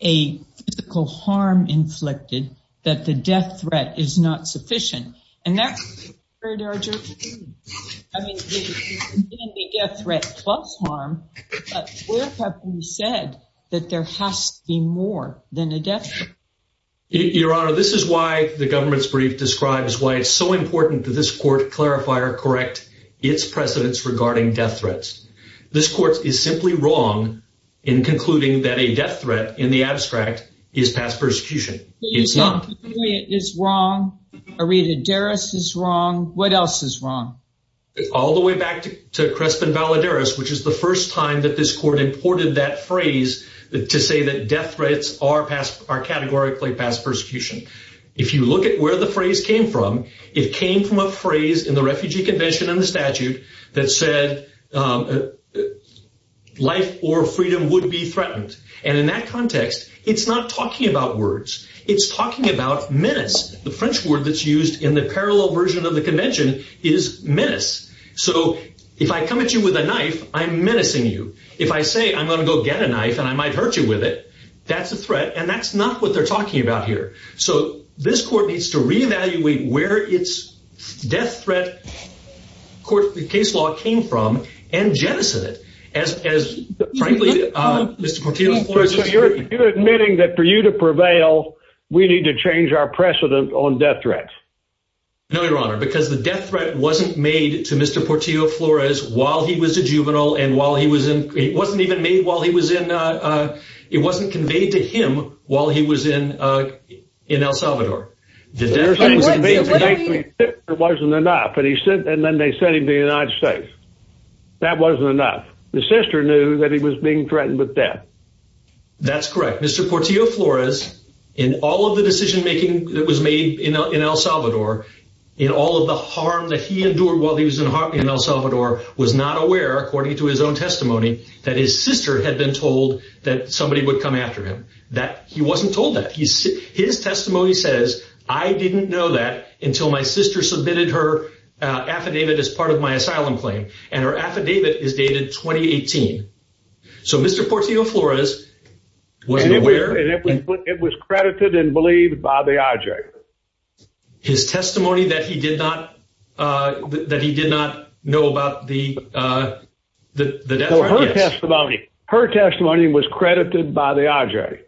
a physical harm inflicted that the death threat is not sufficient. And that's... I mean, if you can see the death threat plus harm, where have you said that there has to be more than a death threat? Your Honor, this is why the government's brief describes why it's so important that this court clarify or correct its precedence regarding death threats. This court is simply wrong in concluding that a death threat in the abstract is past persecution. It's not. It's wrong. Aretha Deris is wrong. What else is wrong? All the way back to Crespin Valadares, which is the first time that this court imported that phrase to say that death threats are categorically past persecution. If you look at where the phrase came from, it came from a phrase in the Refugee Convention and the statute that said life or freedom would be threatened. And in that context, it's not talking about words. It's talking about minutes. The French word that's used in the parallel version of the Convention is minutes. So if I come at you with a knife, I'm menacing you. If I say I'm going to go get a knife and I might hurt you with it, that's a threat, and that's not what they're talking about here. So this court needs to reevaluate where its death threat case law came from and jettison it. So you're admitting that for you to prevail, we need to change our precedent on death threats? No, Your Honor, because the death threat wasn't made to Mr. Portillo Flores while he was a juvenile and while he was in – it wasn't even made while he was in – it wasn't conveyed to him while he was in El Salvador. It wasn't enough, and then they sent him to the United States. That wasn't enough. The sister knew that he was being threatened with death. That's correct. Mr. Portillo Flores, in all of the decision-making that was made in El Salvador, in all of the harm that he endured while he was in El Salvador, was not aware, according to his own testimony, that his sister had been told that somebody would come after him. He wasn't told that. His testimony says, I didn't know that until my sister submitted her affidavit as part of my asylum claim. And her affidavit is dated 2018. So Mr. Portillo Flores wasn't aware – It was credited and believed by the IJ. His testimony that he did not know about the death threat – Her testimony was credited by the IJ,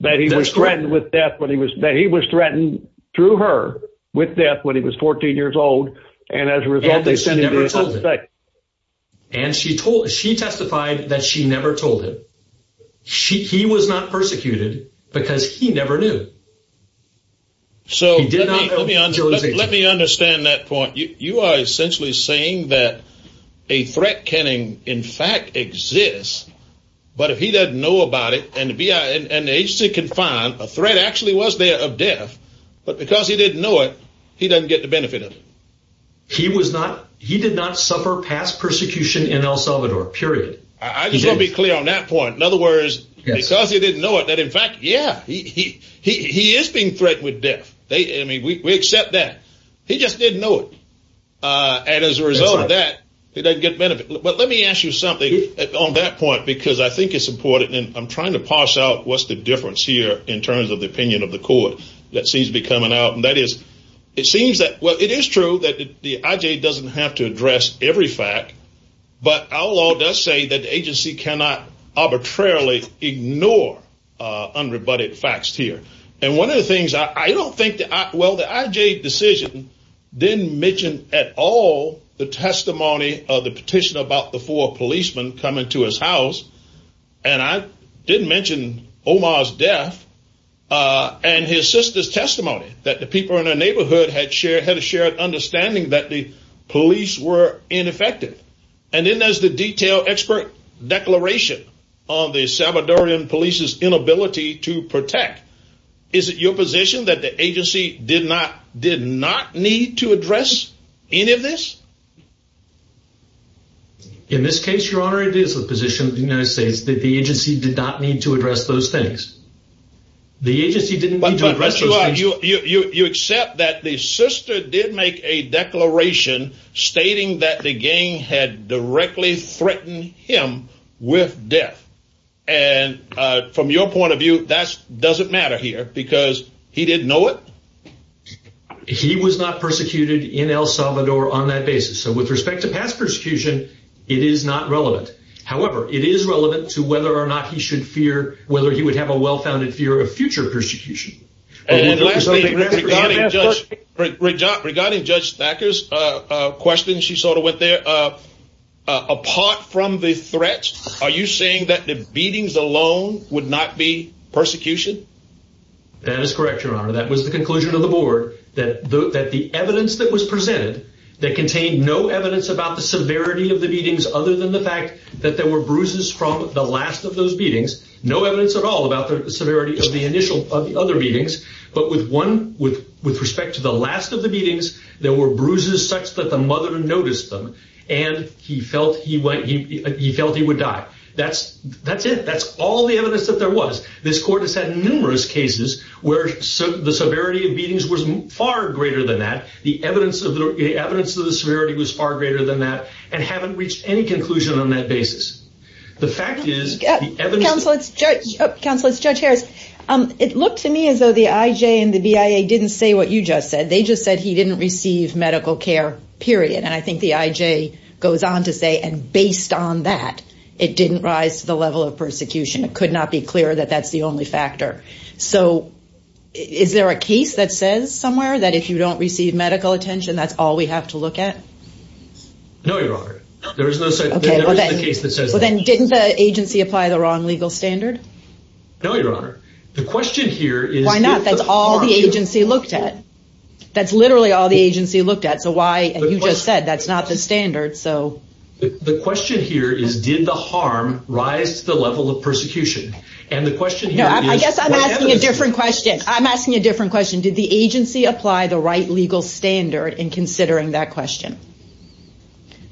that he was threatened with death when he was – that he was threatened through her with death when he was 14 years old, and as a result, they sent him to the United States. And she testified that she never told him. He was not persecuted because he never knew. Let me understand that point. You are essentially saying that a threat can, in fact, exist, but if he doesn't know about it, and the agency can find a threat actually was there of death, but because he didn't know it, he doesn't get the benefit of it. He did not suffer past persecution in El Salvador, period. I just want to be clear on that point. In other words, because he didn't know it, that in fact, yeah, he is being threatened with death. I mean, we accept that. He just didn't know it. And as a result of that, he doesn't get benefit. But let me ask you something on that point because I think it's important, and I'm trying to parse out what's the difference here in terms of the opinion of the court that seems to be coming out, and that is it seems that – well, it is true that the IJ doesn't have to address every fact, but our law does say that the agency cannot arbitrarily ignore unrebutted facts here. And one of the things I don't think – well, the IJ decision didn't mention at all the testimony of the petition about the four policemen coming to his house, and I didn't mention Omar's death and his sister's testimony, that the people in their neighborhood had a shared understanding that the police were ineffective. And then there's the detailed expert declaration on the Salvadorian police's inability to protect. Is it your position that the agency did not need to address any of this? In this case, Your Honor, it is the position of the United States that the agency did not need to address those facts. The agency didn't need to address those facts. But Your Honor, you accept that the sister did make a declaration stating that the gang had directly threatened him with death. And from your point of view, that doesn't matter here, because he didn't know it? He was not persecuted in El Salvador on that basis. And with respect to past persecution, it is not relevant. However, it is relevant to whether or not he should fear – whether he would have a well-founded fear of future persecution. Regarding Judge Thacker's question, she sort of went there. Apart from the threats, are you saying that the beatings alone would not be persecution? That is correct, Your Honor. That was the conclusion of the board, that the evidence that was presented that contained no evidence about the severity of the beatings other than the fact that there were bruises from the last of those beatings, no evidence at all about the severity of the other beatings, but with respect to the last of the beatings, there were bruises such that the mother noticed them, and he felt he would die. That's it. That's all the evidence that there was. This court has had numerous cases where the severity of beatings was far greater than that, the evidence of the severity was far greater than that, and haven't reached any conclusion on that basis. Counselors, Judge Harris, it looks to me as though the IJ and the BIA didn't say what you just said. They just said he didn't receive medical care, period. And I think the IJ goes on to say, and based on that, it didn't rise to the level of persecution. It could not be clear that that's the only factor. So is there a case that says somewhere that if you don't receive medical attention, that's all we have to look at? No, Your Honor. Okay, well then, didn't the agency apply the wrong legal standard? No, Your Honor. The question here is- Why not? That's all the agency looked at. That's literally all the agency looked at, so why, as you just said, that's not the standard, so- The question here is did the harm rise to the level of persecution? And the question here is- No, I guess I'm asking a different question. I'm asking a different question. Did the agency apply the right legal standard in considering that question?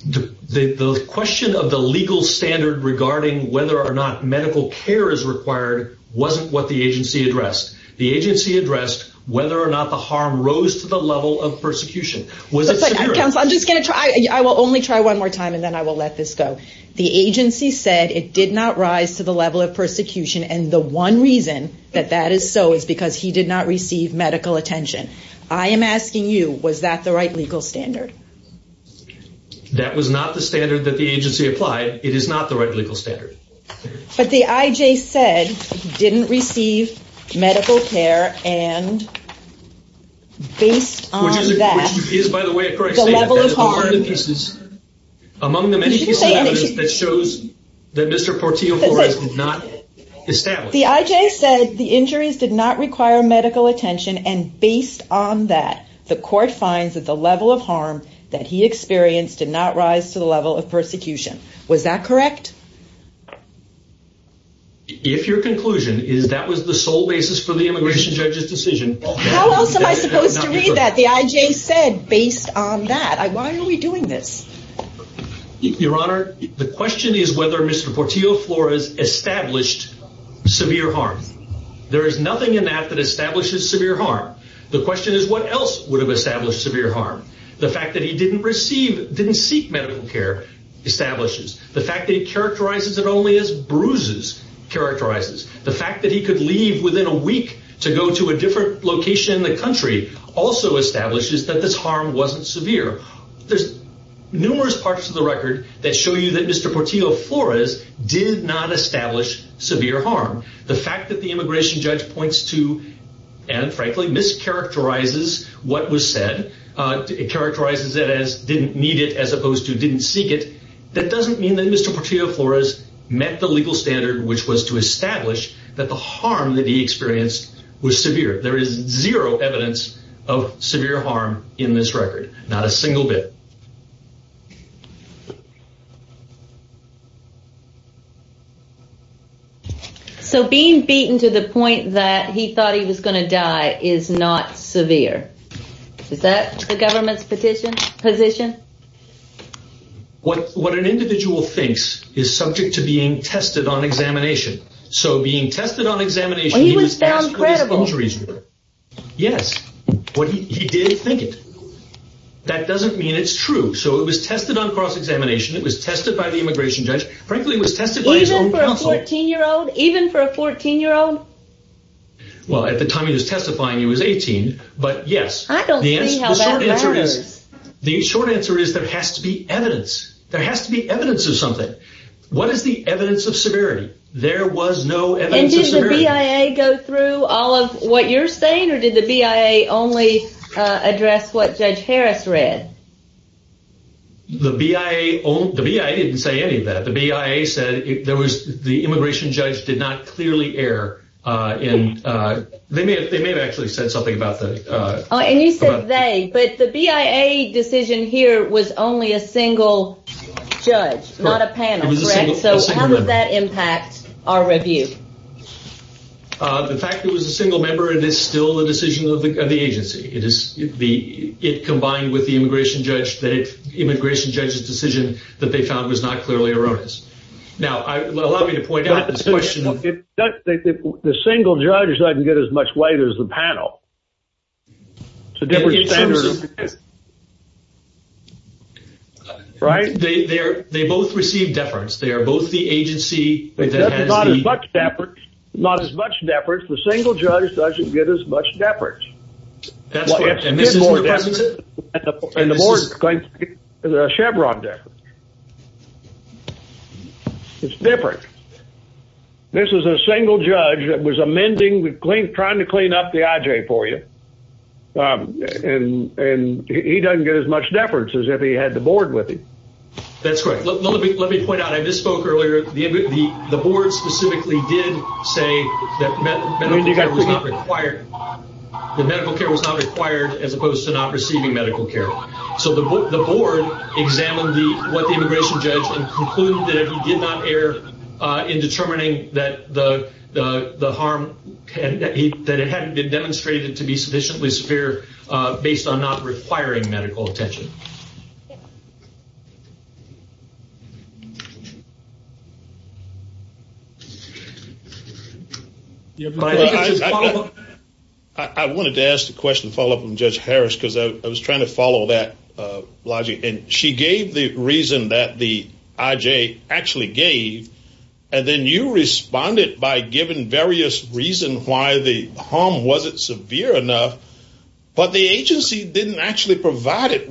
The question of the legal standard regarding whether or not medical care is required wasn't what the agency addressed. The agency addressed whether or not the harm rose to the level of persecution. I'm just going to try. I will only try one more time, and then I will let this go. The agency said it did not rise to the level of persecution, and the one reason that that is so is because he did not receive medical attention. I am asking you, was that the right legal standard? That was not the standard that the agency applied. It is not the right legal standard. But the I.J. said he didn't receive medical care, and based on that- Which is, by the way, correct. The level of harm- Among the many- You should say anything. That shows that Mr. Portillo, of course, did not establish. The I.J. said the injuries did not require medical attention, and based on that, the court finds that the level of harm that he experienced did not rise to the level of persecution. Was that correct? If your conclusion is that was the sole basis for the immigration judge's decision- How else am I supposed to read that? The I.J. said, based on that. Why are we doing this? Your Honor, the question is whether Mr. Portillo Flores established severe harm. There is nothing in that that establishes severe harm. The question is what else would have established severe harm. The fact that he didn't receive, didn't seek medical care establishes. The fact that he characterizes it only as bruises characterizes. The fact that he could leave within a week to go to a different location in the country also establishes that this harm wasn't severe. There's numerous parts of the record that show you that Mr. Portillo Flores did not establish severe harm. The fact that the immigration judge points to, and frankly, mischaracterizes what was said, characterizes it as didn't need it as opposed to didn't seek it, that doesn't mean that Mr. Portillo Flores met the legal standard which was to establish that the harm that he experienced was severe. There is zero evidence of severe harm in this record. Not a single bit. So being beaten to the point that he thought he was going to die is not severe. Is that the government's position? What an individual thinks is subject to being tested on examination. He was found credible. Yes. He did think it. That doesn't mean it's true. So it was tested on cross-examination. It was tested by the immigration judge. Even for a 14-year-old? Well, at the time he was testifying, he was 18, but yes. I don't see how that matters. The short answer is there has to be evidence. There has to be evidence of something. What is the evidence of severity? There was no evidence of severity. Did the BIA go through all of what you're saying or did the BIA only address what Judge Harris read? The BIA didn't say any of that. The BIA said the immigration judge did not clearly err. They may have actually said something about that. He said they, but the BIA decision here was only a single judge, not a panel. So how does that impact our review? The fact that it was a single member is still a decision of the agency. It combined with the immigration judge's decision that they found was not clearly erroneous. Now, allow me to point out this question. The single judge doesn't get as much weight as the panel. They both receive deference. They are both the agency. There's not as much deference. The single judge doesn't get as much deference. And the board is going to get Chevron deference. It's different. This is a single judge that was amending, trying to clean up the IJ for you. And he doesn't get as much deference as if he had the board with him. That's correct. Let me point out, I misspoke earlier. The board specifically did say that medical care was not required as opposed to not receiving medical care. So the board examined what the immigration judge concluded that he did not err in determining that the harm, that it hadn't been demonstrated to be sufficiently severe based on not requiring medical attention. I wanted to ask a question, a follow-up from Judge Harris, because I was trying to follow that logic. And she gave the reason that the IJ actually gave. And then you responded by giving various reasons why the harm wasn't severe enough. But the agency didn't actually provide it.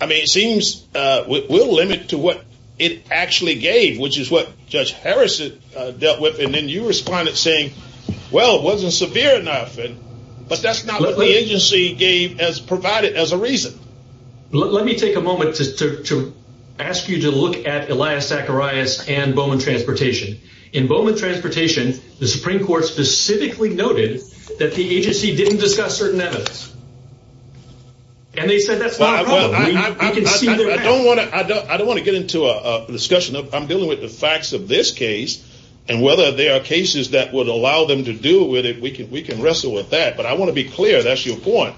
I mean, it seems we'll limit to what it actually gave, which is what Judge Harris dealt with. And then you responded saying, well, it wasn't severe enough. But that's not what the agency provided as a reason. Let me take a moment to ask you to look at Elias Zacharias and Bowman Transportation. In Bowman Transportation, the Supreme Court specifically noted that the agency didn't discuss certain evidence. And they said that's not wrong. I don't want to get into a discussion. I'm dealing with the facts of this case. And whether there are cases that would allow them to deal with it, we can wrestle with that. But I want to be clear, that's your point.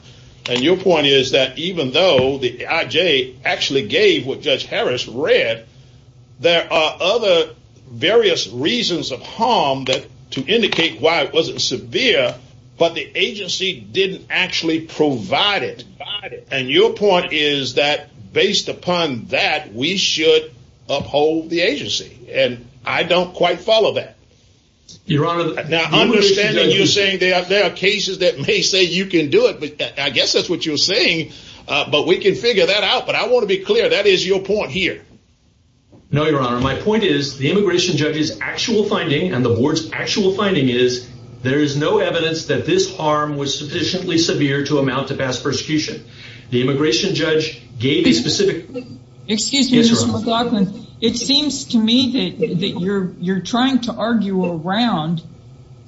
And your point is that even though the IJ actually gave what Judge Harris read, there are other various reasons of harm to indicate why it wasn't severe, but the agency didn't actually provide it. And your point is that based upon that, we should uphold the agency. And I don't quite follow that. Your Honor, Now, I understand that you're saying that there are cases that may say you can do it. I guess that's what you're saying. But we can figure that out. But I want to be clear. That is your point here. No, Your Honor. My point is, the immigration judge's actual finding, and the board's actual finding is, there is no evidence that this harm was sufficiently severe to amount to fast prosecution. The immigration judge gave a specific Excuse me, Mr. McLaughlin. It seems to me that you're trying to argue around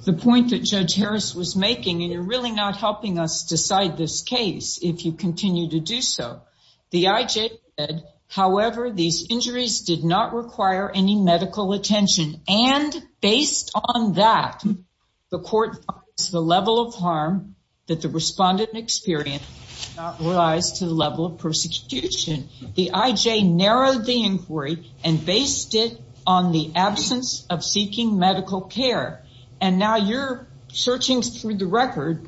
the point that Judge Harris was making, and you're really not helping us decide this case if you continue to do so. The IJ said, however, these injuries did not require any medical attention. And based on that, the court found the level of harm that the respondent experienced did not rise to the level of prosecution. The IJ narrowed the inquiry and based it on the absence of seeking medical care. And now you're searching through the record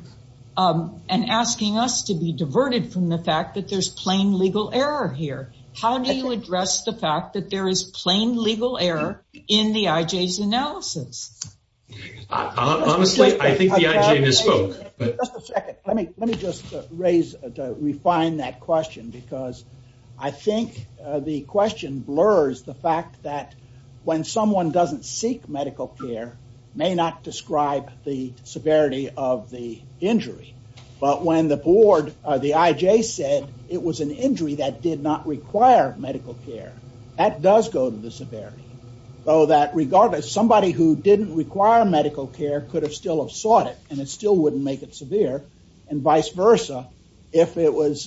and asking us to be diverted from the fact that there's plain legal error here. How do you address the fact that there is plain legal error in the IJ's analysis? Honestly, I think the IJ misspoke. Just a second. Let me just raise, refine that question, because I think the question blurs the fact that when someone doesn't seek medical care, may not describe the severity of the injuries. But when the board, the IJ said it was an injury that did not require medical care, that does go to the severity. So that regardless, somebody who didn't require medical care could have still have sought it, and it still wouldn't make it severe. And vice versa, if it was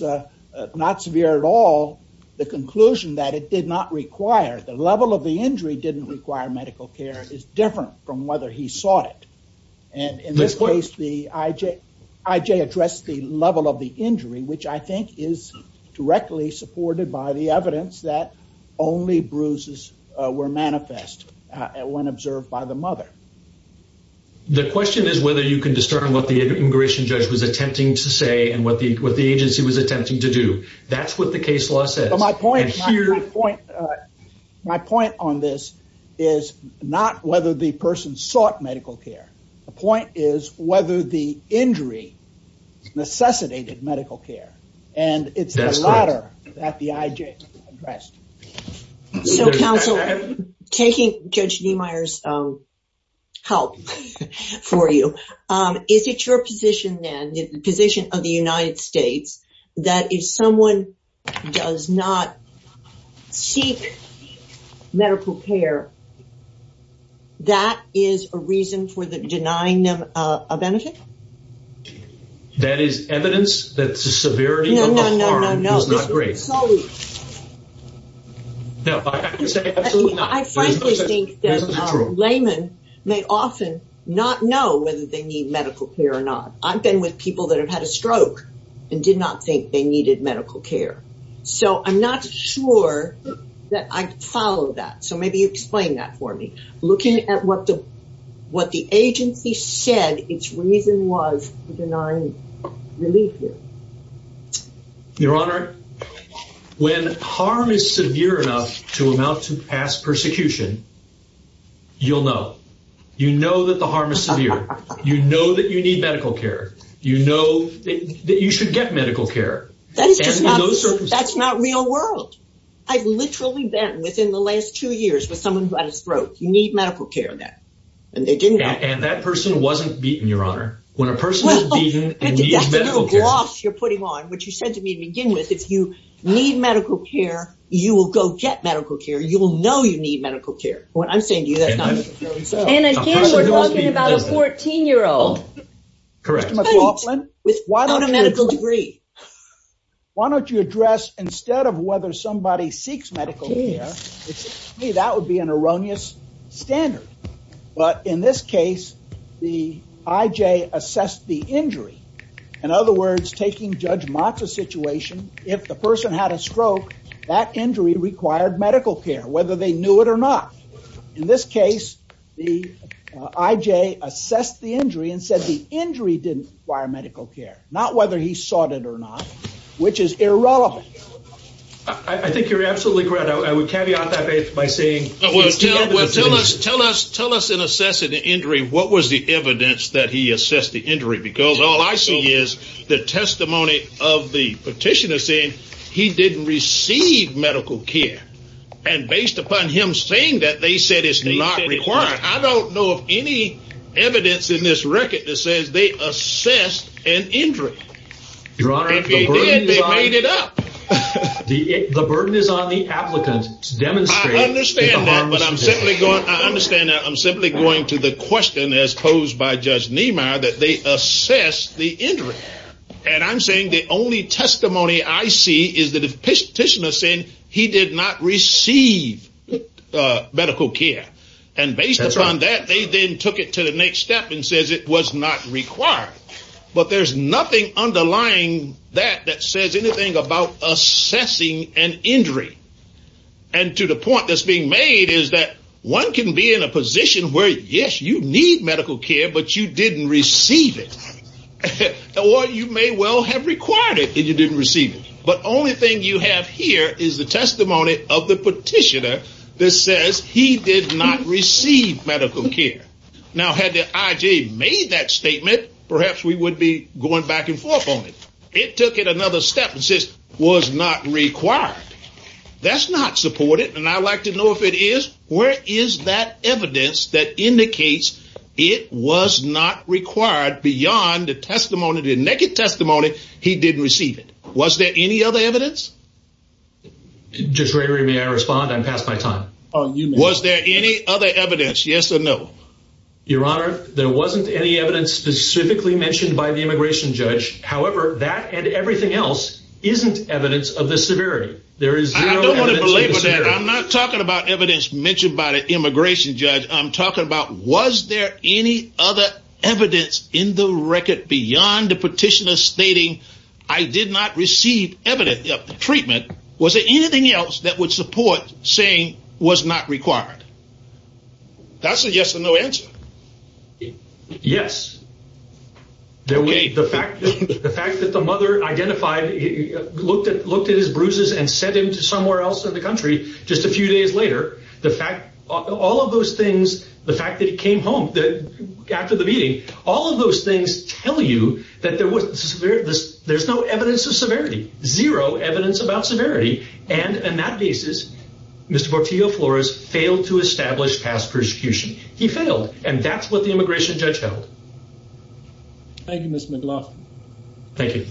not severe at all, the conclusion that it did not require, the level of the injury didn't require medical care is different from whether he sought it. In this case, the IJ addressed the level of the injury, which I think is directly supported by the evidence that only bruises were manifest when observed by the mother. The question is whether you can discern what the immigration judge was attempting to say and what the agency was attempting to do. That's what the case law says. My point on this is not whether the person sought medical care. The point is whether the injury necessitated medical care. And it's the latter that the IJ addressed. So, counsel, taking Judge Niemeyer's help for you, if it's your position then, the position of the United States, that if someone does not seek medical care, that is a reason for denying them a benefit? That is evidence that the severity of the harm is not great. I frankly think that laymen may often not know whether they need medical care or not. I've been with people that have had a stroke and did not think they needed medical care. So, I'm not sure that I follow that. So, maybe you explain that for me. Looking at what the agency said, its reason was to deny relief. Your Honor, when harm is severe enough to amount to past persecution, you'll know. You know that the harm is severe. You know that you need medical care. You know that you should get medical care. That's not real world. I've literally been within the last two years with someone who had a stroke. You need medical care. And that person wasn't beaten, Your Honor. Well, this is a little gloss you're putting on, which you said to me to begin with. If you need medical care, you will go get medical care. You will know you need medical care. That's what I'm saying to you. And again, you're talking about a 14-year-old. Correct. With quite a medical degree. Why don't you address, instead of whether somebody seeks medical care, that would be an erroneous standard. But in this case, the I.J. assessed the injury. In other words, taking Judge Motz's situation, if the person had a stroke, that injury required medical care, whether they knew it or not. In this case, the I.J. assessed the injury and said the injury didn't require medical care, not whether he sought it or not, which is irrelevant. I think you're absolutely correct. Tell us in assessing the injury, what was the evidence that he assessed the injury? Because all I see is the testimony of the petitioner saying he didn't receive medical care. And based upon him saying that, they said it's not required. I don't know of any evidence in this record that says they assessed an injury. Your Honor, the burden is on the applicant. I understand that, but I'm simply going to the question as posed by Judge Niemeyer, that they assessed the injury. And I'm saying the only testimony I see is the petitioner saying he did not receive medical care. And based upon that, they then took it to the next step and said it was not required. But there's nothing underlying that that says anything about assessing an injury. And to the point that's being made is that one can be in a position where, yes, you need medical care, but you didn't receive it. Or you may well have required it and you didn't receive it. But the only thing you have here is the testimony of the petitioner that says he did not receive medical care. Now, had the IG made that statement, perhaps we would be going back and forth on it. It took it another step and says it was not required. That's not supported, and I'd like to know if it is. Where is that evidence that indicates it was not required beyond the testimony, the naked testimony, he didn't receive it? Was there any other evidence? Judge Ray, may I respond? I'm past my time. Was there any other evidence, yes or no? Your Honor, there wasn't any evidence specifically mentioned by the immigration judge. However, that and everything else isn't evidence of the severity. There is no evidence of the severity. I'm not talking about evidence mentioned by the immigration judge. I'm talking about was there any other evidence in the record beyond the petitioner stating I did not receive evidence of the treatment? Was there anything else that would support saying it was not required? That's a yes or no answer. Yes. The fact that the mother identified, looked at his bruises and sent him somewhere else in the country just a few days later, the fact, all of those things, the fact that he came home after the meeting, all of those things tell you that there's no evidence of severity, zero evidence about severity, and on that basis, Mr. Portillo-Flores failed to establish past persecution. He failed, and that's what the immigration judge held. Thank you, Mr. McLaughlin. Thank you.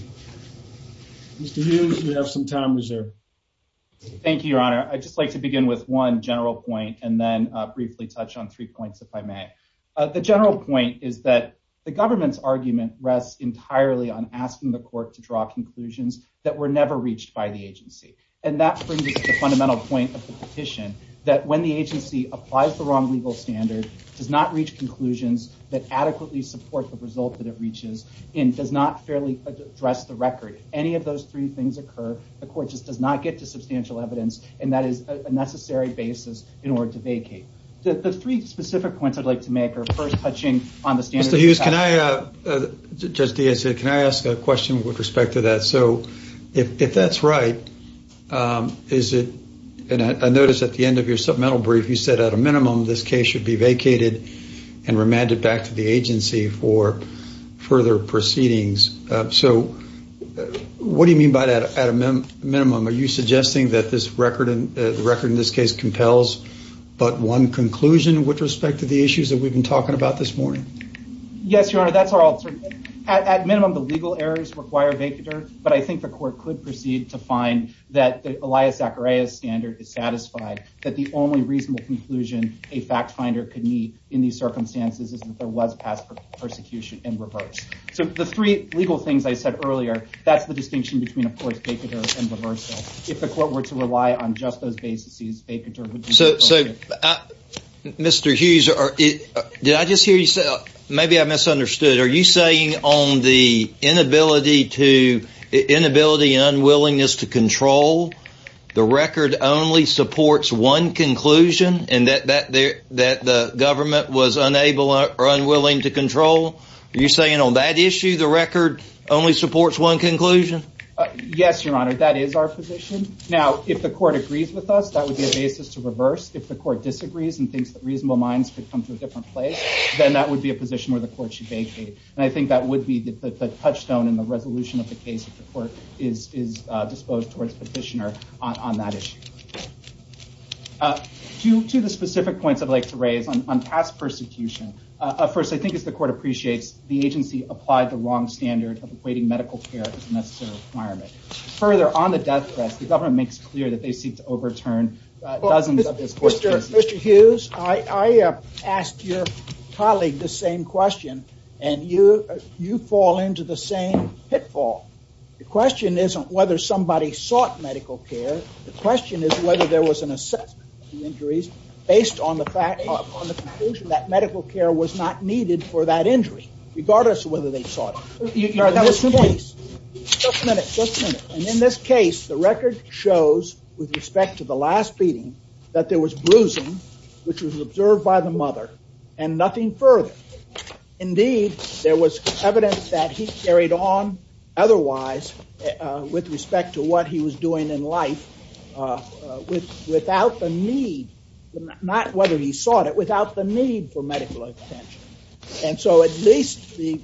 Mr. Hughes, you have some time reserved. Thank you, Your Honor. I'd just like to begin with one general point and then briefly touch on three points, if I may. The general point is that the government's argument rests entirely on asking the court to draw conclusions that were never reached by the agency, and that brings us to the fundamental point of the petition, that when the agency applies the wrong legal standards, does not reach conclusions that adequately support the result that it reaches, and does not fairly address the record, if any of those three things occur, the court just does not get to substantial evidence, and that is a necessary basis in order to vacate. The three specific points I'd like to make are, first, touching on the standards. Mr. Hughes, can I ask a question with respect to that? So if that's right, is it, and I notice at the end of your supplemental brief, you said at a minimum this case should be vacated and remanded back to the agency for further proceedings. So what do you mean by that, at a minimum? Are you suggesting that the record in this case compels but one conclusion with respect to the issues that we've been talking about this morning? Yes, Your Honor, that's our alternative. At minimum, the legal errors require a vacater, but I think the court could proceed to find that Elias Zacharias' standard is satisfied, that the only reasonable conclusion a fact finder could meet in these circumstances is that there was past persecution in reverse. So the three legal things I said earlier, that's the distinction between, of course, vacater and reversal. If the court were to rely on just those bases, vacater would be more appropriate. So, Mr. Hughes, did I just hear you say, maybe I misunderstood. Are you saying on the inability to, inability and unwillingness to control, the record only supports one conclusion, and that the government was unable or unwilling to control? Are you saying on that issue, the record only supports one conclusion? Yes, Your Honor, that is our position. Now, if the court agrees with us, that would be a basis to reverse. If the court disagrees and thinks that reasonable minds should come to a different place, then that would be a position where the court should vacate. And I think that would be the touchstone in the resolution of the case if the court is disposed towards petitioner on that issue. Two specific points I'd like to raise on past persecution. First, I think if the court appreciates, the agency applied the long standard of awaiting medical care as a necessary requirement. Further, on the death death, the government makes it clear that they seek to overturn dozens of reports. Mr. Hughes, I asked your colleague the same question, and you fall into the same pitfall. The question isn't whether somebody sought medical care. The question is whether there was an assessment of injuries based on the conclusion that medical care was not needed for that injury, regardless of whether they sought it. Your Honor, that was my point. Just a minute, just a minute. And in this case, the record shows, with respect to the last beating, that there was bruising, which was observed by the mother, and nothing further. Indeed, there was evidence that he carried on otherwise, with respect to what he was doing in life, without the need, not whether he sought it, without the need for medical attention. And so at least the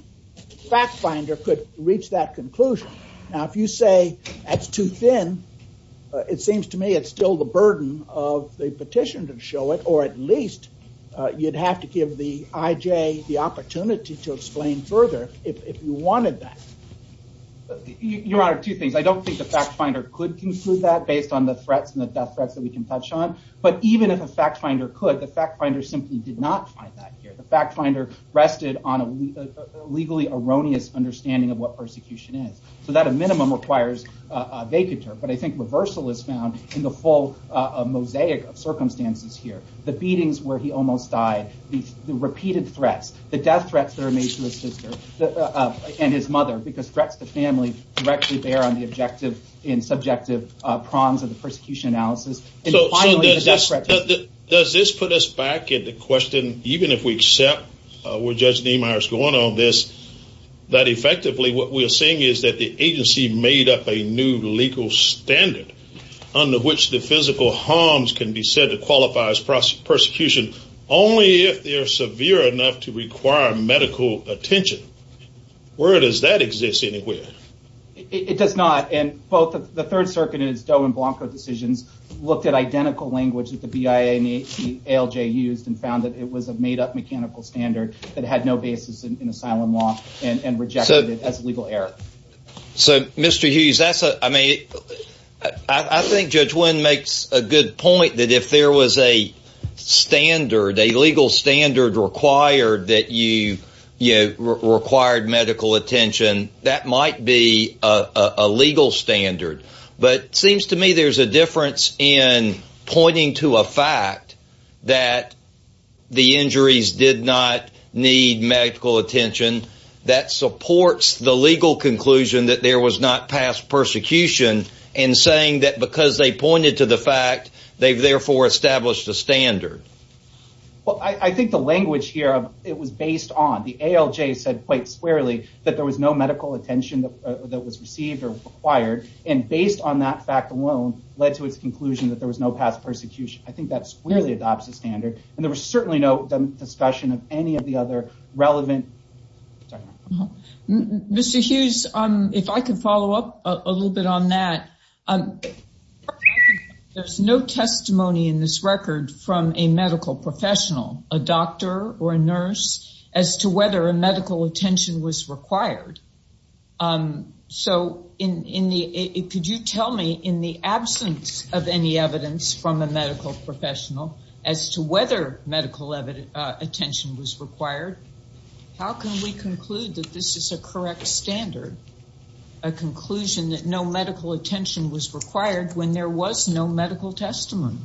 fact finder could reach that conclusion. Now, if you say that's too thin, it seems to me it's still the burden of the petition to show it, or at least you'd have to give the IJ the opportunity to explain further if you wanted that. Your Honor, two things. I don't think the fact finder could conclude that based on the threats and the death threats that we can touch on, but even if a fact finder could, the fact finder simply did not find that here. The fact finder rested on a legally erroneous understanding of what persecution is. So that, at a minimum, requires a vapid term. But I think reversal is found in the full mosaic of circumstances here. The beatings where he almost died, the repeated threats, the death threats that are made to his sister and his mother, because threats to the family directly bear on the objective and subjective prongs of the persecution analysis. So does this put us back at the question, even if we've sat with Judge Niemeyer's point on this, that effectively what we're saying is that the agency made up a new legal standard under which the physical harms can be said to qualify as persecution only if they're severe enough to require medical attention. Where does that exist anyway? It does not. The Third Circuit in its Doe and Blanco decisions looked at identical language that the BIA and ALJ used and found that it was a made-up mechanical standard that had no basis in asylum law and rejected it as a legal error. So, Mr. Hughes, I think Judge Wynn makes a good point that if there was a standard, a legal standard required that required medical attention, that might be a legal standard. But it seems to me there's a difference in pointing to a fact that the injuries did not need medical attention that supports the legal conclusion that there was not past persecution and saying that because they pointed to the fact, they therefore established the standard. Well, I think the language here, it was based on. The ALJ said quite squarely that there was no medical attention that was received or required and based on that fact alone led to its conclusion that there was no past persecution. I think that squarely adopts the standard. And there was certainly no discussion of any of the other relevant... Mr. Hughes, if I could follow up a little bit on that. There's no testimony in this record from a medical professional, a doctor or a nurse, as to whether a medical attention was required. So, could you tell me in the absence of any evidence from a medical professional as to whether medical attention was required? How can we conclude that this is a correct standard, a conclusion that no medical attention was required when there was no medical testimony?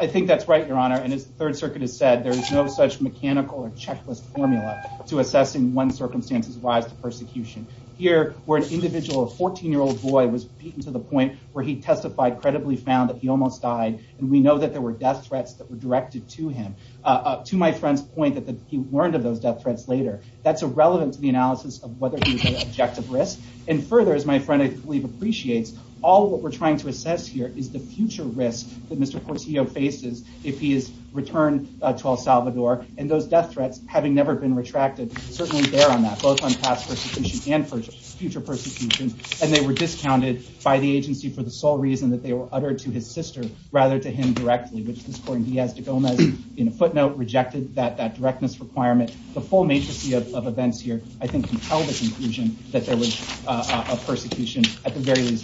I think that's right, Your Honor. And as the Third Circuit has said, there is no such mechanical or checklist formula to assess in one circumstance the lives of persecution. Here, where an individual, a 14-year-old boy, was beaten to the point where he testified, credibly found that he almost died, and we know that there were death threats that were directed to him. To my friend's point, he warned of those death threats later. That's irrelevant to the analysis of whether he was at objective risk. And further, as my friend, I believe, appreciates, all that we're trying to assess here is the future risk that Mr. Porcillo faces if he is returned to El Salvador. And those death threats, having never been retracted, certainly bear on that, both on past persecution and future persecution. And they were discounted by the agency for the sole reason that they were uttered to his sister rather than him directly. His sister, Diaz de Gomez, in a footnote, rejected that directness requirement. The full nature of events here, I think, can tell the conclusion that there was a persecution at the very least.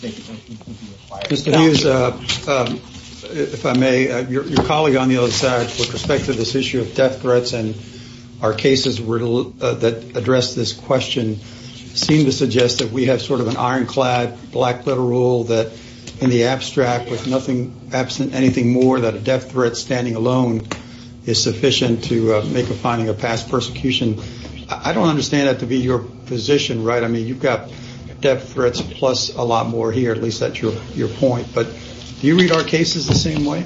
Mr. Hughes, if I may, your colleague on the other side, with respect to this issue of death threats and our cases that address this question, seem to suggest that we have sort of an ironclad, black-foot rule that in the abstract, with nothing absent, anything more than a death threat standing alone, is sufficient to make a finding of past persecution. I don't understand that to be your position, right? I mean, you've got death threats plus a lot more here, at least that's your point. But do you read our cases the same way?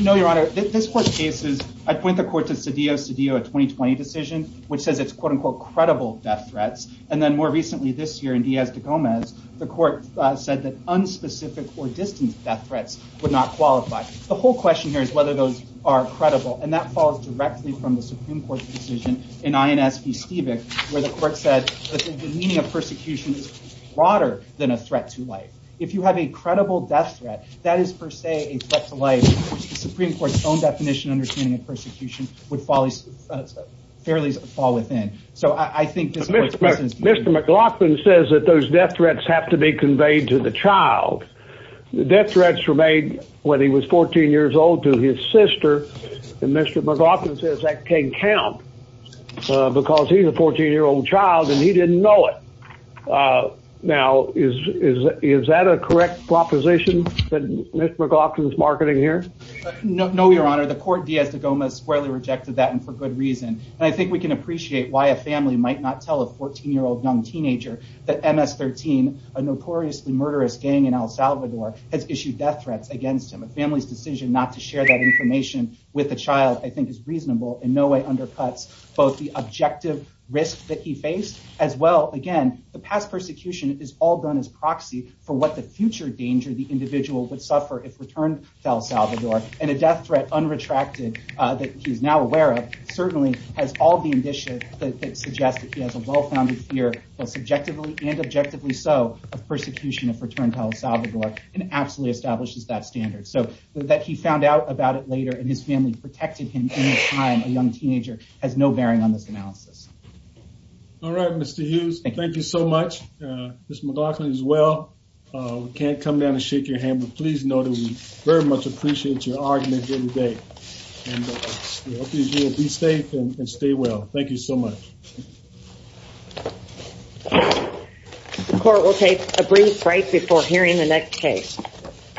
No, Your Honor. This court's case is, I point the court to Cedillo's Cedillo 2020 decision, which says it's quote-unquote credible death threats, and then more recently this year in Diaz de Gomez, the court said that unspecific or distant death threats would not qualify. The whole question here is whether those are credible, and that follows directly from the Supreme Court's decision in INS v. Stevick, where the court said that the meaning of persecution is broader than a threat to life. If you have a credible death threat, that is per se a threat to life. The Supreme Court's own definition and understanding of persecution would fall within. Mr. McLaughlin says that those death threats have to be conveyed to the child. Death threats were made when he was 14 years old to his sister, and Mr. McLaughlin says that can't count, because he's a 14-year-old child and he didn't know it. Now, is that a correct proposition that Mr. McLaughlin's marketing here? No, Your Honor. The court, Diaz de Gomez, squarely rejected that, and for good reason. I think we can appreciate why a family might not tell a 14-year-old young teenager that MS-13, a notoriously murderous gang in El Salvador, has issued death threats against him. A family's decision not to share that information with the child, I think, is reasonable, and in no way undercuts both the objective risk that he faced, as well, again, the past persecution is all done as proxy for what the future danger the individual would suffer if returned to El Salvador. And a death threat, unretracted, that he is now aware of, certainly has all the indicia that suggest that he has a well-founded fear, both subjectively and objectively so, of persecution if returned to El Salvador, and absolutely establishes that standard. So, that he found out about it later, and his family protected him in his time as a young teenager has no bearing on this analysis. All right, Mr. Hughes, thank you so much. Mr. McLaughlin, as well. We can't come down and shake your hand, but please know that we very much appreciate your argument here today. And be safe and stay well. Thank you so much. The court will take a brief break before hearing the next case.